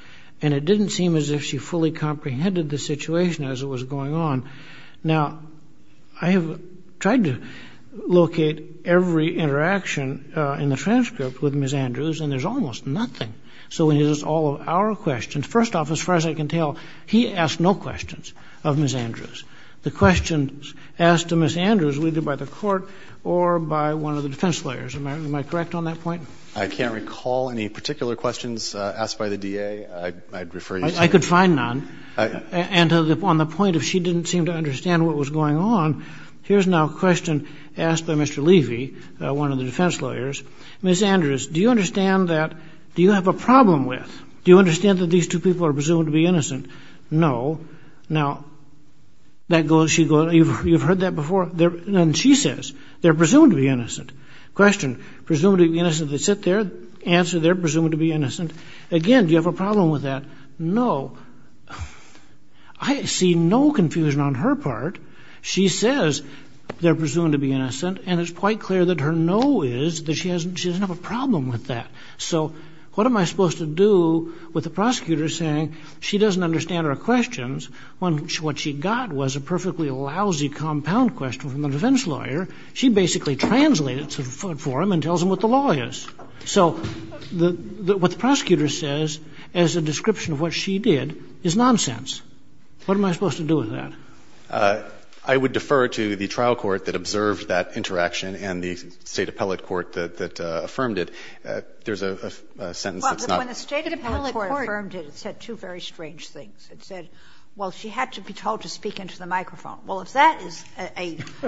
And it didn't seem as if she fully comprehended the situation as it was going on. Now, I have tried to locate every interaction in the transcript with Ms. Andrews, and there's almost nothing. So in all of our questions, first off, as far as I can tell, he asked no questions of Ms. Andrews. The questions asked to Ms. Andrews were either by the court or by one of the defense lawyers. Am I correct on that point? I can't recall any particular questions asked by the DA. I'd refer you to someone. I could find none. And on the point of she didn't seem to understand what was going on, here's now a question asked by Mr. Levy, one of the defense lawyers. Ms. Andrews, do you understand that, do you have a problem with, do you understand that these two people are presumed to be innocent? No. Now, that goes, she goes, you've heard that before, and she says, they're presumed to be innocent. Question, presumed to be innocent, they sit there, answer, they're presumed to be innocent. Again, do you have a problem with that? No. I see no confusion on her part. She says they're presumed to be innocent, and it's quite clear that her no is that she doesn't have a problem with that. So what am I supposed to do with the prosecutor saying she doesn't understand our questions when what she got was a perfectly lousy compound question from the defense lawyer. She basically translated it for him and tells him what the law is. So what the prosecutor says as a description of what she did is nonsense. What am I supposed to do with that? I would defer to the trial court that observed that interaction and the state appellate court that affirmed it. There's a sentence that's not... Well, when the state appellate court affirmed it, it said two very strange things. It said, well, she had to be told to speak into the microphone. Well, if that is an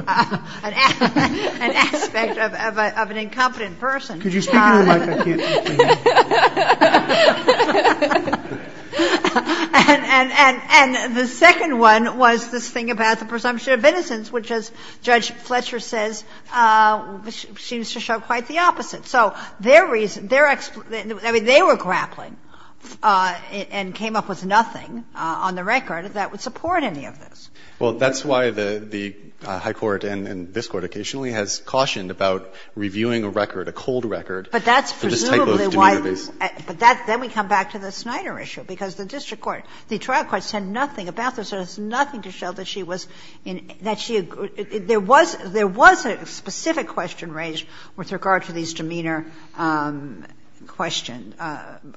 aspect of an incompetent person... Could you speak into the microphone? And the second one was this thing about the presumption of innocence, which, as Judge Fletcher says, seems to show quite the opposite. So they were grappling and came up with nothing on the record that would support any of this. Well, that's why the high court and this court occasionally has cautioned about reviewing a record, a cold record... But that's presumably why... But then we come back to the Snyder issue, because the district court, the trial court said nothing about this. There was nothing to show that she was... There was a specific question raised with regard to these demeanor question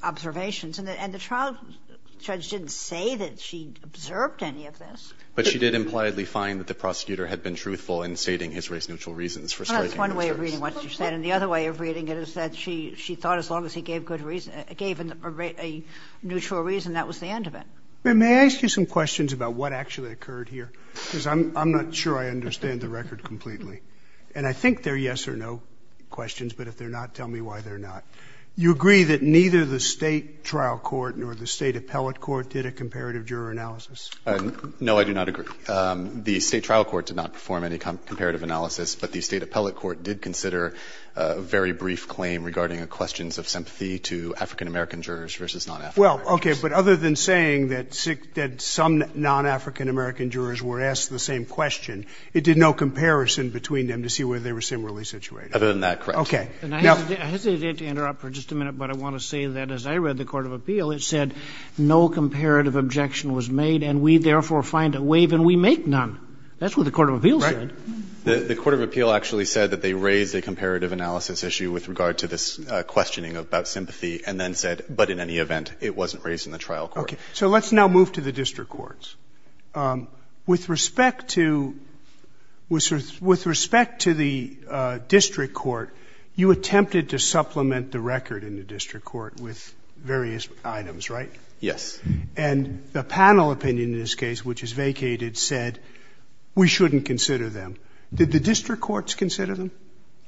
observations. And the trial judge didn't say that she observed any of this. But she did impliedly find that the prosecutor had been truthful in stating his race-neutral reasons for striking... That's one way of reading what she said. And the other way of reading it is that she thought as long as he gave a neutral reason, that was the end of it. May I ask you some questions about what actually occurred here? Because I'm not sure I understand the record completely. And I think they're yes or no questions, but if they're not, tell me why they're not. You agree that neither the state trial court nor the state appellate court did a comparative juror analysis? No, I do not agree. The state trial court did not perform any comparative analysis, but the state appellate court did consider a very brief claim regarding questions of sympathy to African-American jurors versus non-African. Well, okay. But other than saying that some non-African-American jurors were asked the same question, it did no comparison between them to see whether they were similarly situated. Other than that, correct. Okay. And I hesitate to interrupt for just a minute, but I want to say that as I read the court of appeal, it said no comparative objection was made and we therefore find a waive and we make none. That's what the court of appeal said. Right. The court of appeal actually said that they raved a comparative analysis issue with regard to this questioning about sympathy and then said, but in any event, it wasn't raised in the trial court. Okay. So let's now move to the district courts. With respect to the district court, you attempted to supplement the record in the district court with various items, right? Yes. And the panel opinion in this case, which is vacated, said we shouldn't consider them. Did the district courts consider them?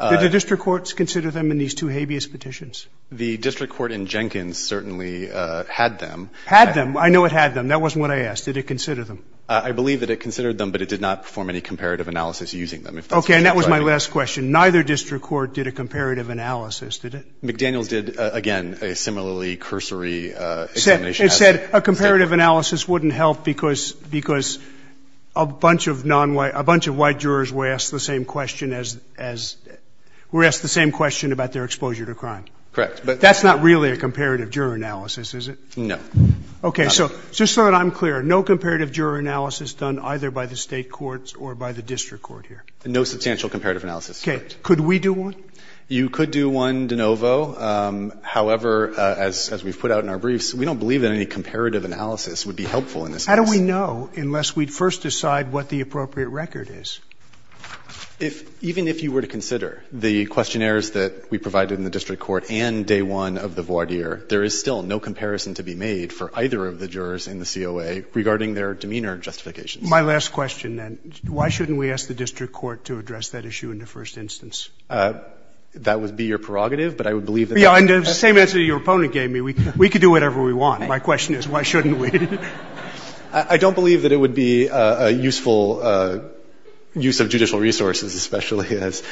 Did the district courts consider them in these two habeas petitions? The district court in Jenkins certainly had them. Had them? I know it had them. That wasn't what I asked. Did it consider them? I believe that it considered them, but it did not perform any comparative analysis using them. Okay. And that was my last question. Neither district court did a comparative analysis, did it? McDaniel did, again, a similarly cursory examination. It said a comparative analysis wouldn't help because a bunch of white jurors were asked the same question about their exposure to crime. Correct. But that's not really a comparative juror analysis, is it? No. Okay. So just so that I'm clear, no comparative juror analysis done either by the state courts or by the district court here? No substantial comparative analysis. Okay. Could we do one? You could do one de novo. However, as we put out in our briefs, we don't believe that any comparative analysis would be helpful in this case. How do we know unless we first decide what the appropriate record is? Even if you were to consider the questionnaires that we provided in the district court and day one of the voir dire, there is still no comparison to be made for either of the jurors in the COA regarding their demeanor and justification. My last question, then. Why shouldn't we ask the district court to address that issue in the first instance? That would be your prerogative, but I would believe that... Yeah, and the same answer your opponent gave me. We could do whatever we want. My question is, why shouldn't we? I don't believe that it would be a useful use of judicial resources, especially as...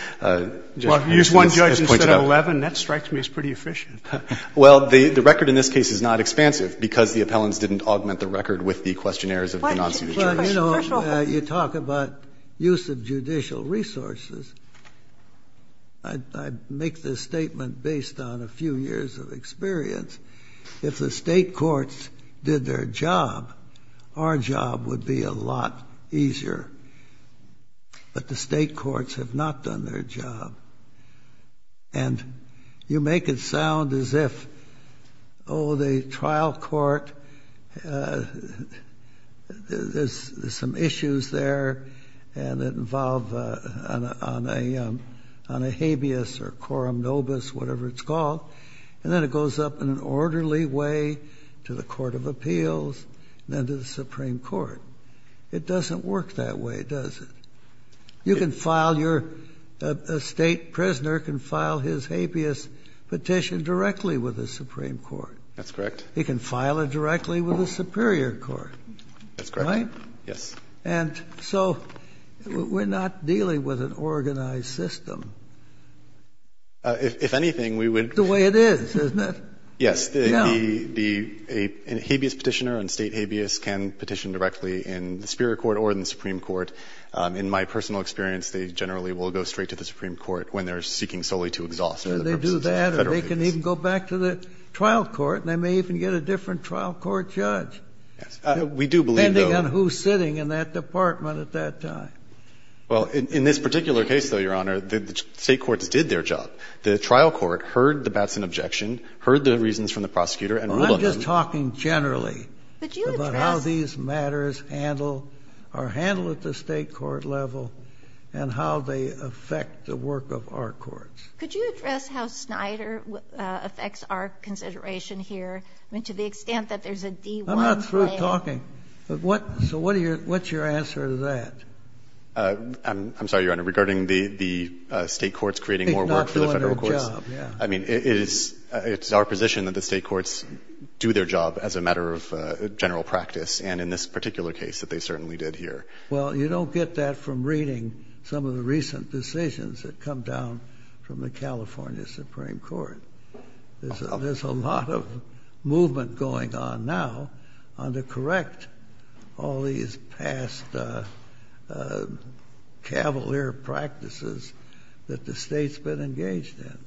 Use one judge instead of 11? That strikes me as pretty efficient. Well, the record in this case is not expansive because the appellants didn't augment the record with the questionnaires of the non-judicial... But, you know, you talk about use of judicial resources. I make this statement based on a few years of experience. If the state courts did their job, our job would be a lot easier. But the state courts have not done their job. And you make it sound as if, oh, the trial court, there's some issues there that involve on a habeas or quorum nobis, whatever it's called, and then it goes up in an orderly way to the Court of Appeals and then to the Supreme Court. It doesn't work that way, does it? You can file your... A state prisoner can file his habeas petition directly with the Supreme Court. That's correct. He can file it directly with the Superior Court. That's correct. Right? Yes. And so we're not dealing with an organized system. If anything, we would... It's the way it is, isn't it? Yes. Yeah. A habeas petitioner and state habeas can petition directly in the Superior Court or in the Supreme Court. In my personal experience, they generally will go straight to the Supreme Court when they're seeking solely to exhaust... They do that or they can even go back to the trial court and they may even get a different trial court judge. We do believe... Depending on who's sitting in that department at that time. Well, in this particular case, though, Your Honor, the state courts did their job. The trial court heard the Batson objection, heard the reasons from the prosecutor and... We're just talking generally about how these matters are handled at the state court level and how they affect the work of our courts. Could you address how Snyder affects our consideration here? I mean, to the extent that there's a D-1... I'm not through talking. So what's your answer to that? I'm sorry, Your Honor. Regarding the state courts creating more work for the federal courts... It's not doing our job. Yeah. I mean, it's our position that the state courts do their job as a matter of general practice and in this particular case that they certainly did here. Well, you don't get that from reading some of the recent decisions that come down from the California Supreme Court. There's a lot of movement going on now to correct all these past cavalier practices that the state's been engaged in.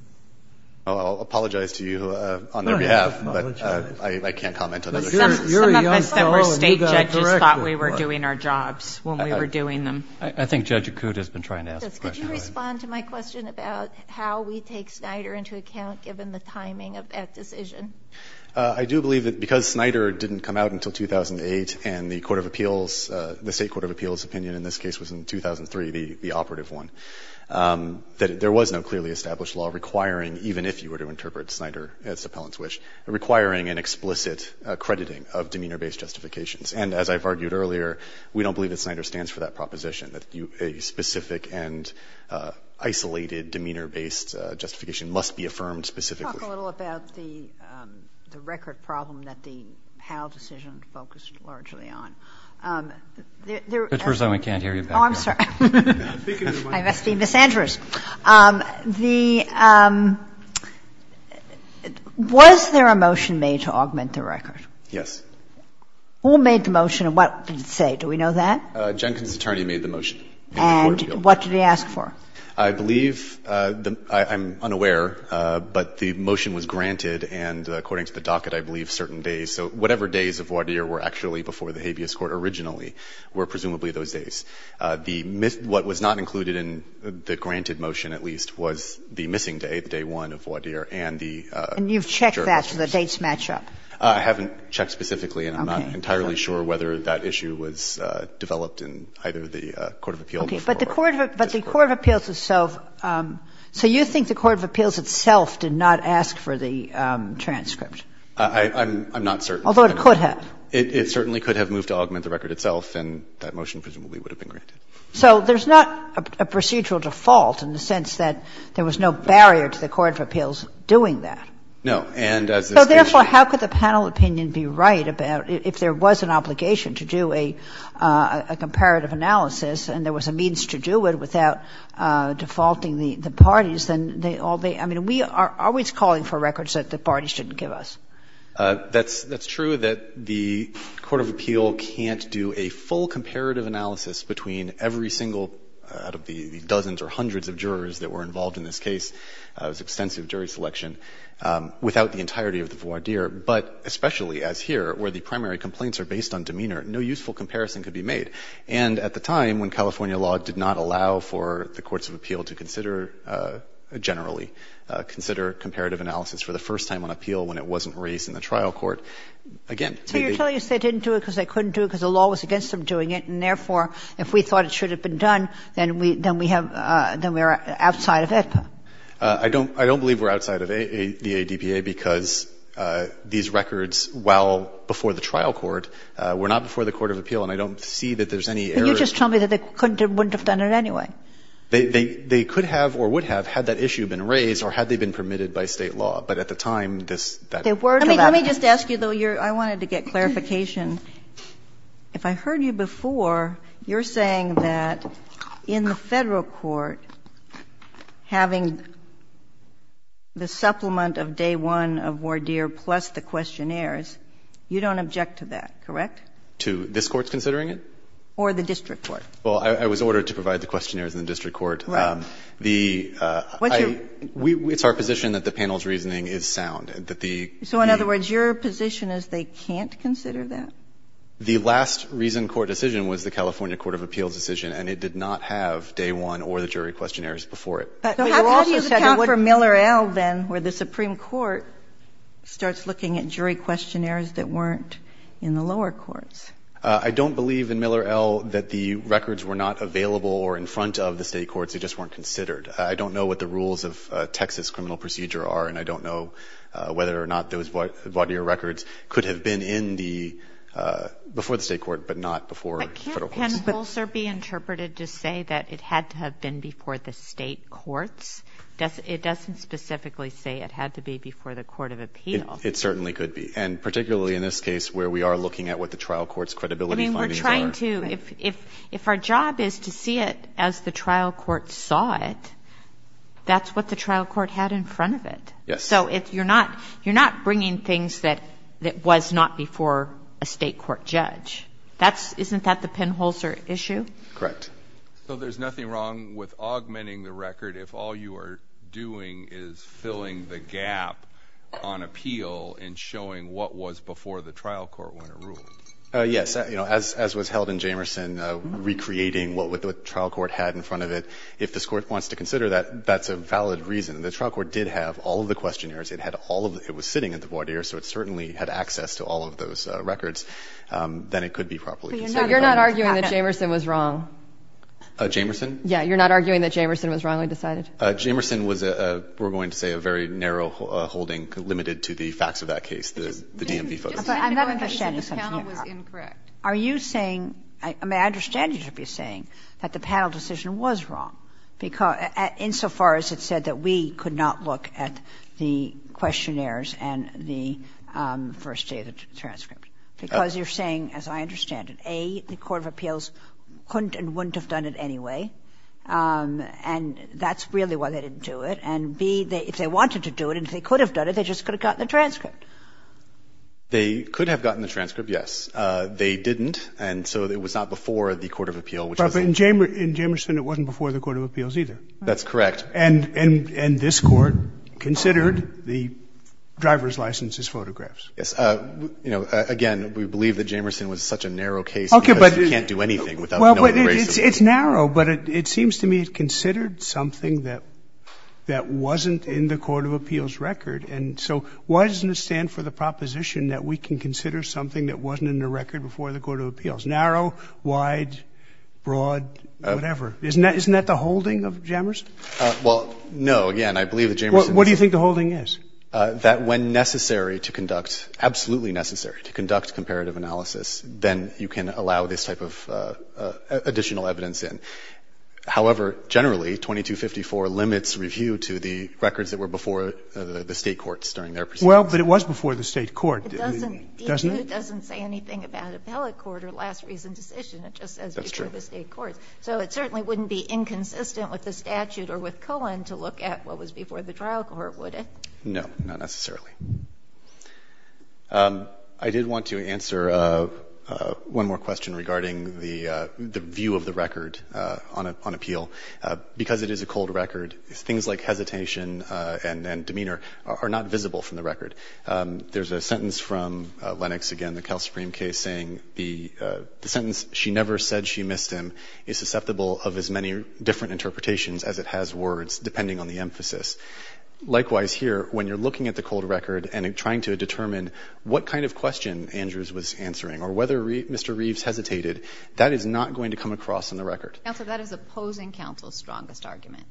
I'll apologize to you on their behalf, but I can't comment on other cases. You're a young fellow and you got it corrected. I just thought we were doing our jobs when we were doing them. I think Judge Acuda's been trying to ask a question. Could you respond to my question about how we take Snyder into account given the timing of that decision? I do believe that because Snyder didn't come out until 2008 and the state court of appeals opinion in this case was in 2003, the operative one, that there was no clearly established law requiring, even if you were to interpret Snyder as the appellant's wish, requiring an explicit accrediting of demeanor-based justifications. And as I've argued earlier, we don't believe that Snyder stands for that proposition, that a specific and isolated demeanor-based justification must be affirmed specifically. Let's talk a little about the record problem that the HAL decision focused largely on. This is the first time I can't hear you. Oh, I'm sorry. I must be misandrist. Was there a motion made to augment the record? Yes. Who made the motion and what did it say? Do we know that? Jenkins' attorney made the motion. And what did he ask for? I believe the ‑‑ I'm unaware, but the motion was granted, and according to the docket I believe certain days, so whatever days of voir dire were actually before the habeas court originally were presumably those days. What was not included in the granted motion at least was the missing date, day one of voir dire. And you've checked that for the dates match up? I haven't checked specifically, and I'm not entirely sure whether that issue was developed in either the court of appeals. But the court of appeals itself, so you think the court of appeals itself did not ask for the transcript? I'm not certain. Although it could have. It certainly could have moved to augment the record itself, and that motion presumably would have been granted. So there's not a procedural default in the sense that there was no barrier to the court of appeals doing that? No. So therefore how could the panel opinion be right about if there was an obligation to do a comparative analysis and there was a means to do it without defaulting the parties? I mean, we are always calling for records that the parties shouldn't give us. That's true that the court of appeal can't do a full comparative analysis between every single, out of the dozens or hundreds of jurors that were involved in this case, it was extensive jury selection, without the entirety of the voir dire, but especially as here where the primary complaints are based on demeanor, no useful comparison could be made. And at the time when California law did not allow for the courts of appeal to consider generally, consider comparative analysis for the first time on appeal when it wasn't raised in the trial court, again. So you're telling us they didn't do it because they couldn't do it because the law was against them doing it, and therefore if we thought it should have been done, then we are outside of it? I don't believe we're outside of the ADPA because these records, while before the trial court, were not before the court of appeal and I don't see that there's any error. Can you just tell me that they wouldn't have done it anyway? They could have or would have had that issue been raised or had they been permitted by state law, but at the time this. Let me just ask you though, I wanted to get clarification. If I heard you before, you're saying that in the federal court, having the supplement of day one of voir dire plus the questionnaires, you don't object to that, correct? To this court's considering it? Or the district court? Well, I was ordered to provide the questionnaires in the district court. It's our position that the panel's reasoning is sound. So in other words, your position is they can't consider that? The last reason court decision was the California court of appeal decision and it did not have day one or the jury questionnaires before it. So how do you account for Miller-El then, where the Supreme Court starts looking at jury questionnaires that weren't in the lower courts? I don't believe in Miller-El that the records were not available or in front of the state courts. They just weren't considered. I don't know what the rules of Texas criminal procedure are and I don't know whether or not those voir dire records could have been before the state court, but not before the federal court. It can also be interpreted to say that it had to have been before the state courts. It doesn't specifically say it had to be before the court of appeal. It certainly could be. And particularly in this case where we are looking at what the trial court's credibility findings are. I mean, we're trying to. If our job is to see it as the trial court saw it, that's what the trial court had in front of it. Yes. So you're not bringing things that was not before a state court judge. Isn't that the pinholster issue? Correct. So there's nothing wrong with augmenting the record if all you are doing is filling the gap on appeal and showing what was before the trial court were in a room? Yes. As was held in Jamerson, recreating what the trial court had in front of it. If this court wants to consider that, that's a valid reason. The trial court did have all of the questionnaires. It was sitting at the voir dire, so it certainly had access to all of those records. Then it could be properly considered. So you're not arguing that Jamerson was wrong? Jamerson? Yes. You're not arguing that Jamerson was wrong, I decided? Jamerson was, we're going to say, a very narrow holding limited to the facts of that case, the DMV photos. I'm not understanding something. Are you saying, I mean, I understand what you're saying, that the panel decision was wrong, insofar as it said that we could not look at the questionnaires and the first day of the transcript? Because you're saying, as I understand it, A, the court of appeals couldn't and wouldn't have done it anyway, and that's really why they didn't do it, and B, if they wanted to do it and if they could have done it, they just could have gotten the transcript. They could have gotten the transcript, yes. They didn't, and so it was not before the court of appeal. But in Jamerson, it wasn't before the court of appeals either. That's correct. And this court considered the driver's license as photographs. Yes. Again, we believe that Jamerson was such a narrow case because he can't do anything without knowing the reason. It's narrow, but it seems to me it's considered something that wasn't in the court of appeals record, and so why doesn't it stand for the proposition that we can consider something that wasn't in the record before the court of appeals? Narrow, wide, broad, whatever. Isn't that the holding of Jamerson? Well, no. Again, I believe that Jamerson... What do you think the holding is? That when necessary to conduct, absolutely necessary to conduct comparative analysis, then you can allow this type of additional evidence in. However, generally, 2254 limits review to the records that were before the state courts during their... Well, but it was before the state court, didn't it? It doesn't say anything about appellate court or last reason decision. It just says before the state court. So it certainly wouldn't be inconsistent with the statute or with Cohen to look at what was before the trial court, would it? No, not necessarily. I did want to answer one more question regarding the view of the record on appeal. Because it is a cold record, things like hesitation and demeanor are not visible from the record. There's a sentence from Lennox, again, the Cal Supreme case, saying the sentence, she never said she missed him is susceptible of as many different interpretations as it has words, depending on the emphasis. Likewise here, when you're looking at the cold record and trying to determine what kind of question Andrews was answering or whether Mr. Reeves hesitated, that is not going to come across in the record. Counselor, that is opposing counsel's strongest argument.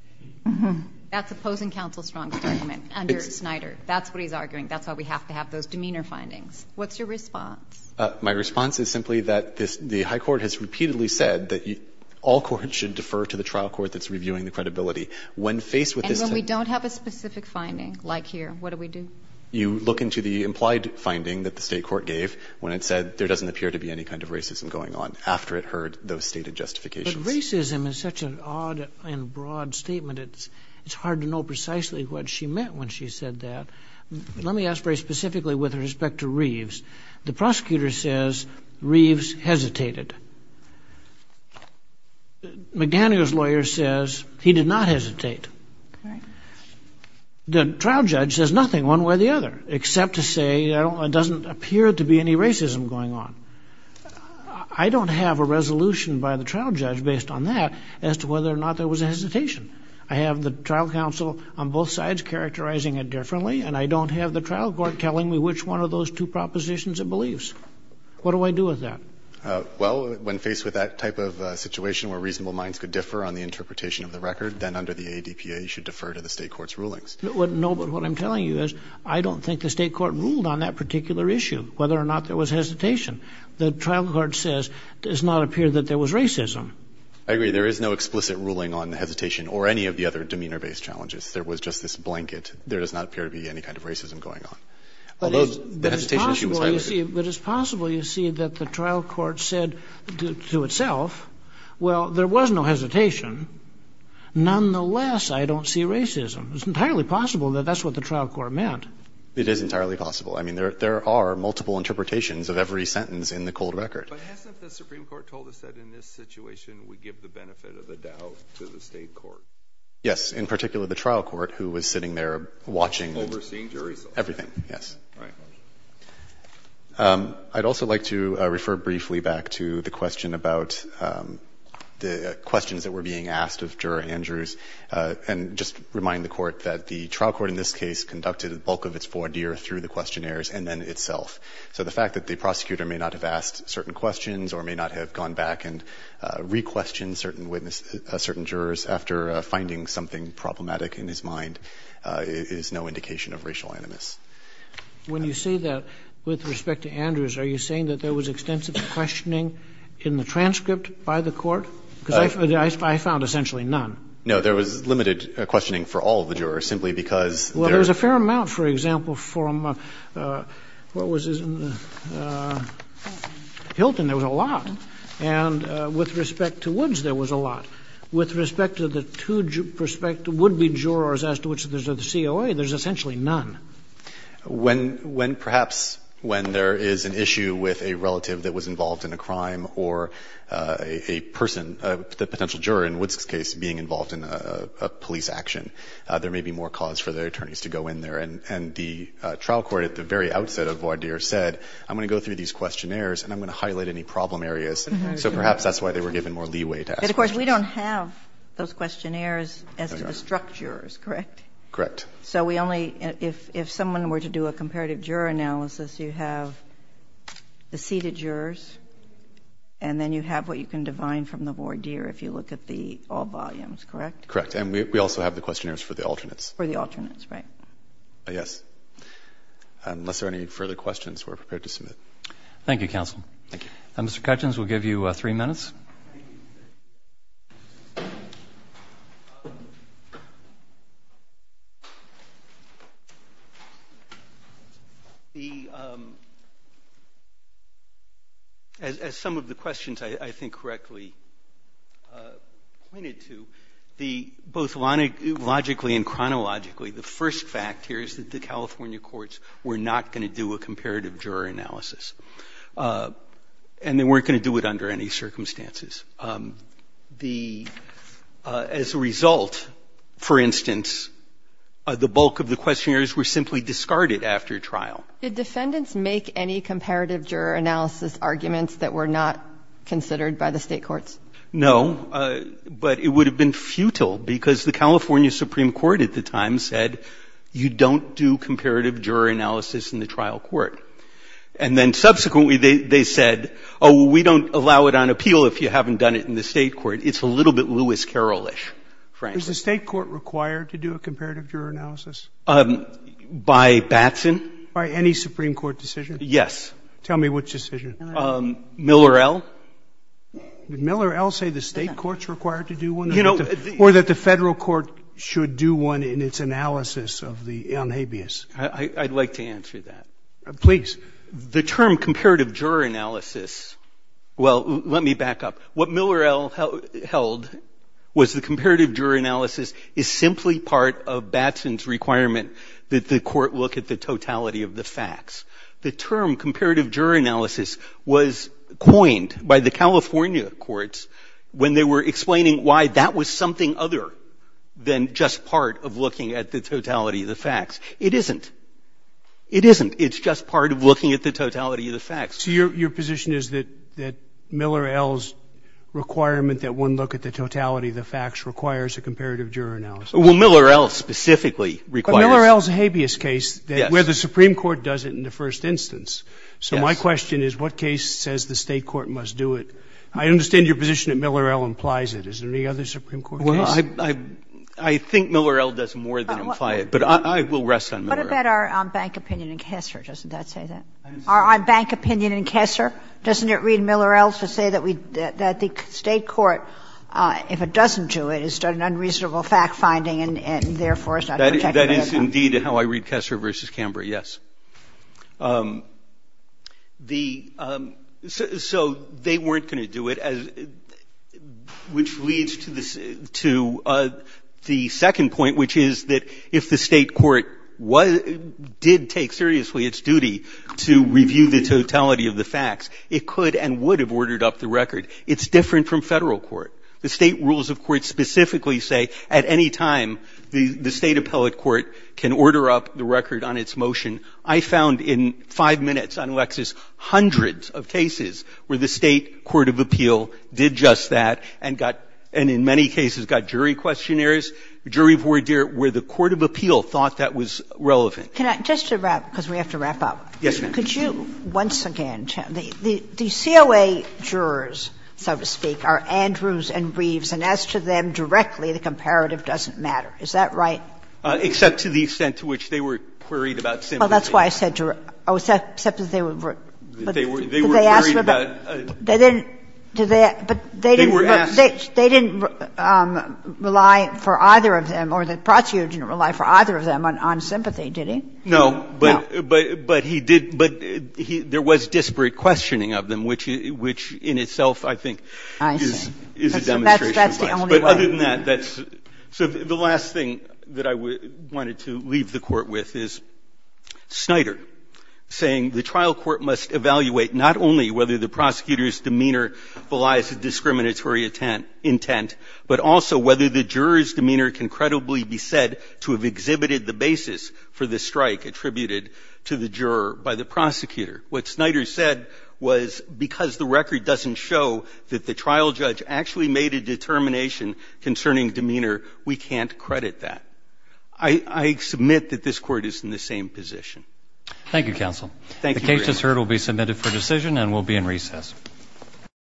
That's opposing counsel's strongest argument under Schneider. That's what he's arguing. That's why we have to have those demeanor findings. What's your response? My response is simply that the high court has repeatedly said that all courts should defer to the trial court that's reviewing the credibility. And when we don't have a specific finding, like here, what do we do? You look into the implied finding that the state court gave when it said there doesn't appear to be any kind of racism going on, after it heard those stated justifications. Because racism is such an odd and broad statement, it's hard to know precisely what she meant when she said that. Let me ask very specifically with respect to Reeves. The prosecutor says Reeves hesitated. McGanney, his lawyer, says he did not hesitate. The trial judge says nothing one way or the other, except to say there doesn't appear to be any racism going on. I don't have a resolution by the trial judge based on that as to whether or not there was a hesitation. I have the trial counsel on both sides characterizing it differently, and I don't have the trial court telling me which one of those two propositions it believes. What do I do with that? Well, when faced with that type of situation where reasonable minds could differ on the interpretation of the record, then under the ADPA you should defer to the state court's rulings. No, but what I'm telling you is I don't think the state court ruled on that particular issue, whether or not there was hesitation. The trial court says it does not appear that there was racism. I agree. There is no explicit ruling on the hesitation or any of the other demeanor-based challenges. There was just this blanket. There does not appear to be any kind of racism going on. But it's possible, you see, that the trial court said to itself, well, there was no hesitation. Nonetheless, I don't see racism. It's entirely possible that that's what the trial court meant. It is entirely possible. I mean, there are multiple interpretations of every sentence in the cold record. But hasn't the Supreme Court told us that in this situation we give the benefit of the doubt to the state court? Yes, in particular the trial court, who was sitting there watching everything. Overseeing juries? Everything, yes. All right. I'd also like to refer briefly back to the question about the questions that were being asked of Juror Andrews and just remind the court that the trial court in this case conducted the bulk of its voir dire through the questionnaires and then itself. So the fact that the prosecutor may not have asked certain questions or may not have gone back and re-questioned certain jurors after finding something problematic in his mind is no indication of racial animus. When you say that, with respect to Andrews, are you saying that there was extensive questioning in the transcript by the court? Because I found essentially none. No, there was limited questioning for all of the jurors simply because... Well, there was a fair amount, for example, from Hilton, there was a lot. And with respect to Woods, there was a lot. With respect to the two would-be jurors as to which there's a COA, there's essentially none. Perhaps when there is an issue with a relative that was involved in a crime or a person, a potential juror in Woods' case, being involved in a police action, there may be more cause for the attorneys to go in there. And the trial court at the very outset of voir dire said, I'm going to go through these questionnaires and I'm going to highlight any problem areas. So perhaps that's why they were given more leeway to ask questions. But, of course, we don't have those questionnaires as to the struck jurors, correct? Correct. So we only... If someone were to do a comparative juror analysis, you have the seated jurors and then you have what you can define from the voir dire if you look at the all volumes, correct? Correct. And we also have the questionnaires for the alternates. For the alternates, right. Yes. Unless there are any further questions, we're prepared to submit. Thank you, counsel. Thank you. Mr. Cutchins, we'll give you three minutes. As some of the questions I think correctly pointed to, both logically and chronologically, the first fact here is that the California courts were not going to do a comparative juror analysis. And they weren't going to do it under any circumstances. As a result, for instance, the bulk of the questionnaires were simply discarded after trial. Did defendants make any comparative juror analysis arguments that were not considered by the state courts? No. But it would have been futile because the California Supreme Court at the time said, you don't do comparative juror analysis in the trial court. And then subsequently they said, oh, we don't allow it on appeal if you haven't done it in the state court. It's a little bit Lewis Carroll-ish, frankly. Is the state court required to do a comparative juror analysis? By Batson. By any Supreme Court decision? Yes. Tell me which decision. Miller L. Did Miller L. say the state court's required to do one? Or that the federal court should do one in its analysis on habeas? I'd like to answer that. Please. The term comparative juror analysis, well, let me back up. What Miller L. held was the comparative juror analysis is simply part of Batson's requirement that the court look at the totality of the facts. The term comparative juror analysis was coined by the California courts when they were explaining why that was something other than just part of looking at the totality of the facts. It isn't. It isn't. It's just part of looking at the totality of the facts. So your position is that Miller L.'s requirement that one look at the totality of the facts requires a comparative juror analysis? Well, Miller L. specifically requires it. But Miller L.'s a habeas case where the Supreme Court does it in the first instance. So my question is what case says the state court must do it? I understand your position that Miller L. implies it. Is there any other Supreme Court decision? Well, I think Miller L. does more than imply it, but I will rest on Miller L. What about our bank opinion in Kessler? Doesn't that say that? Our bank opinion in Kessler? Doesn't it read Miller L. to say that the state court, if it doesn't do it, is done an unreasonable fact-finding and, therefore, is not protected? That is, indeed, how I read Kessler v. Cambria, yes. So they weren't going to do it, which leads to the second point, which is that if the state court did take seriously its duty to review the totality of the facts, it could and would have ordered up the record. It's different from federal court. The state rules of court specifically say at any time the state appellate court can order up the record on its motion. I found in five minutes on Lexis hundreds of cases where the state court of appeal did just that and, in many cases, got jury questionnaires, jury voir dire, where the court of appeal thought that was relevant. Just to wrap, because we have to wrap up. Yes, ma'am. Could you, once again, the COA jurors, if I'm not mistaken, are Andrews and Reeves, and as to them directly, the comparative doesn't matter. Is that right? Except to the extent to which they were queried about sympathy. Oh, that's why I said juror. Except that they were worried about it. They didn't rely for either of them, or the prosecutor didn't rely for either of them on sympathy, did he? No, but he did, but there was disparate questioning of them, which in itself, I think, is a demonstration of that. That's the only way. So the last thing that I wanted to leave the court with is Snyder saying the trial court must evaluate not only whether the prosecutor's demeanor belies a discriminatory intent, but also whether the juror's demeanor can credibly be said to have exhibited the basis for the strike attributed to the juror by the prosecutor. What Snyder said was because the record doesn't show that the trial judge actually made a determination concerning demeanor, we can't credit that. I submit that this court is in the same position. Thank you, counsel. The case is heard, will be submitted for decision, and will be in recess.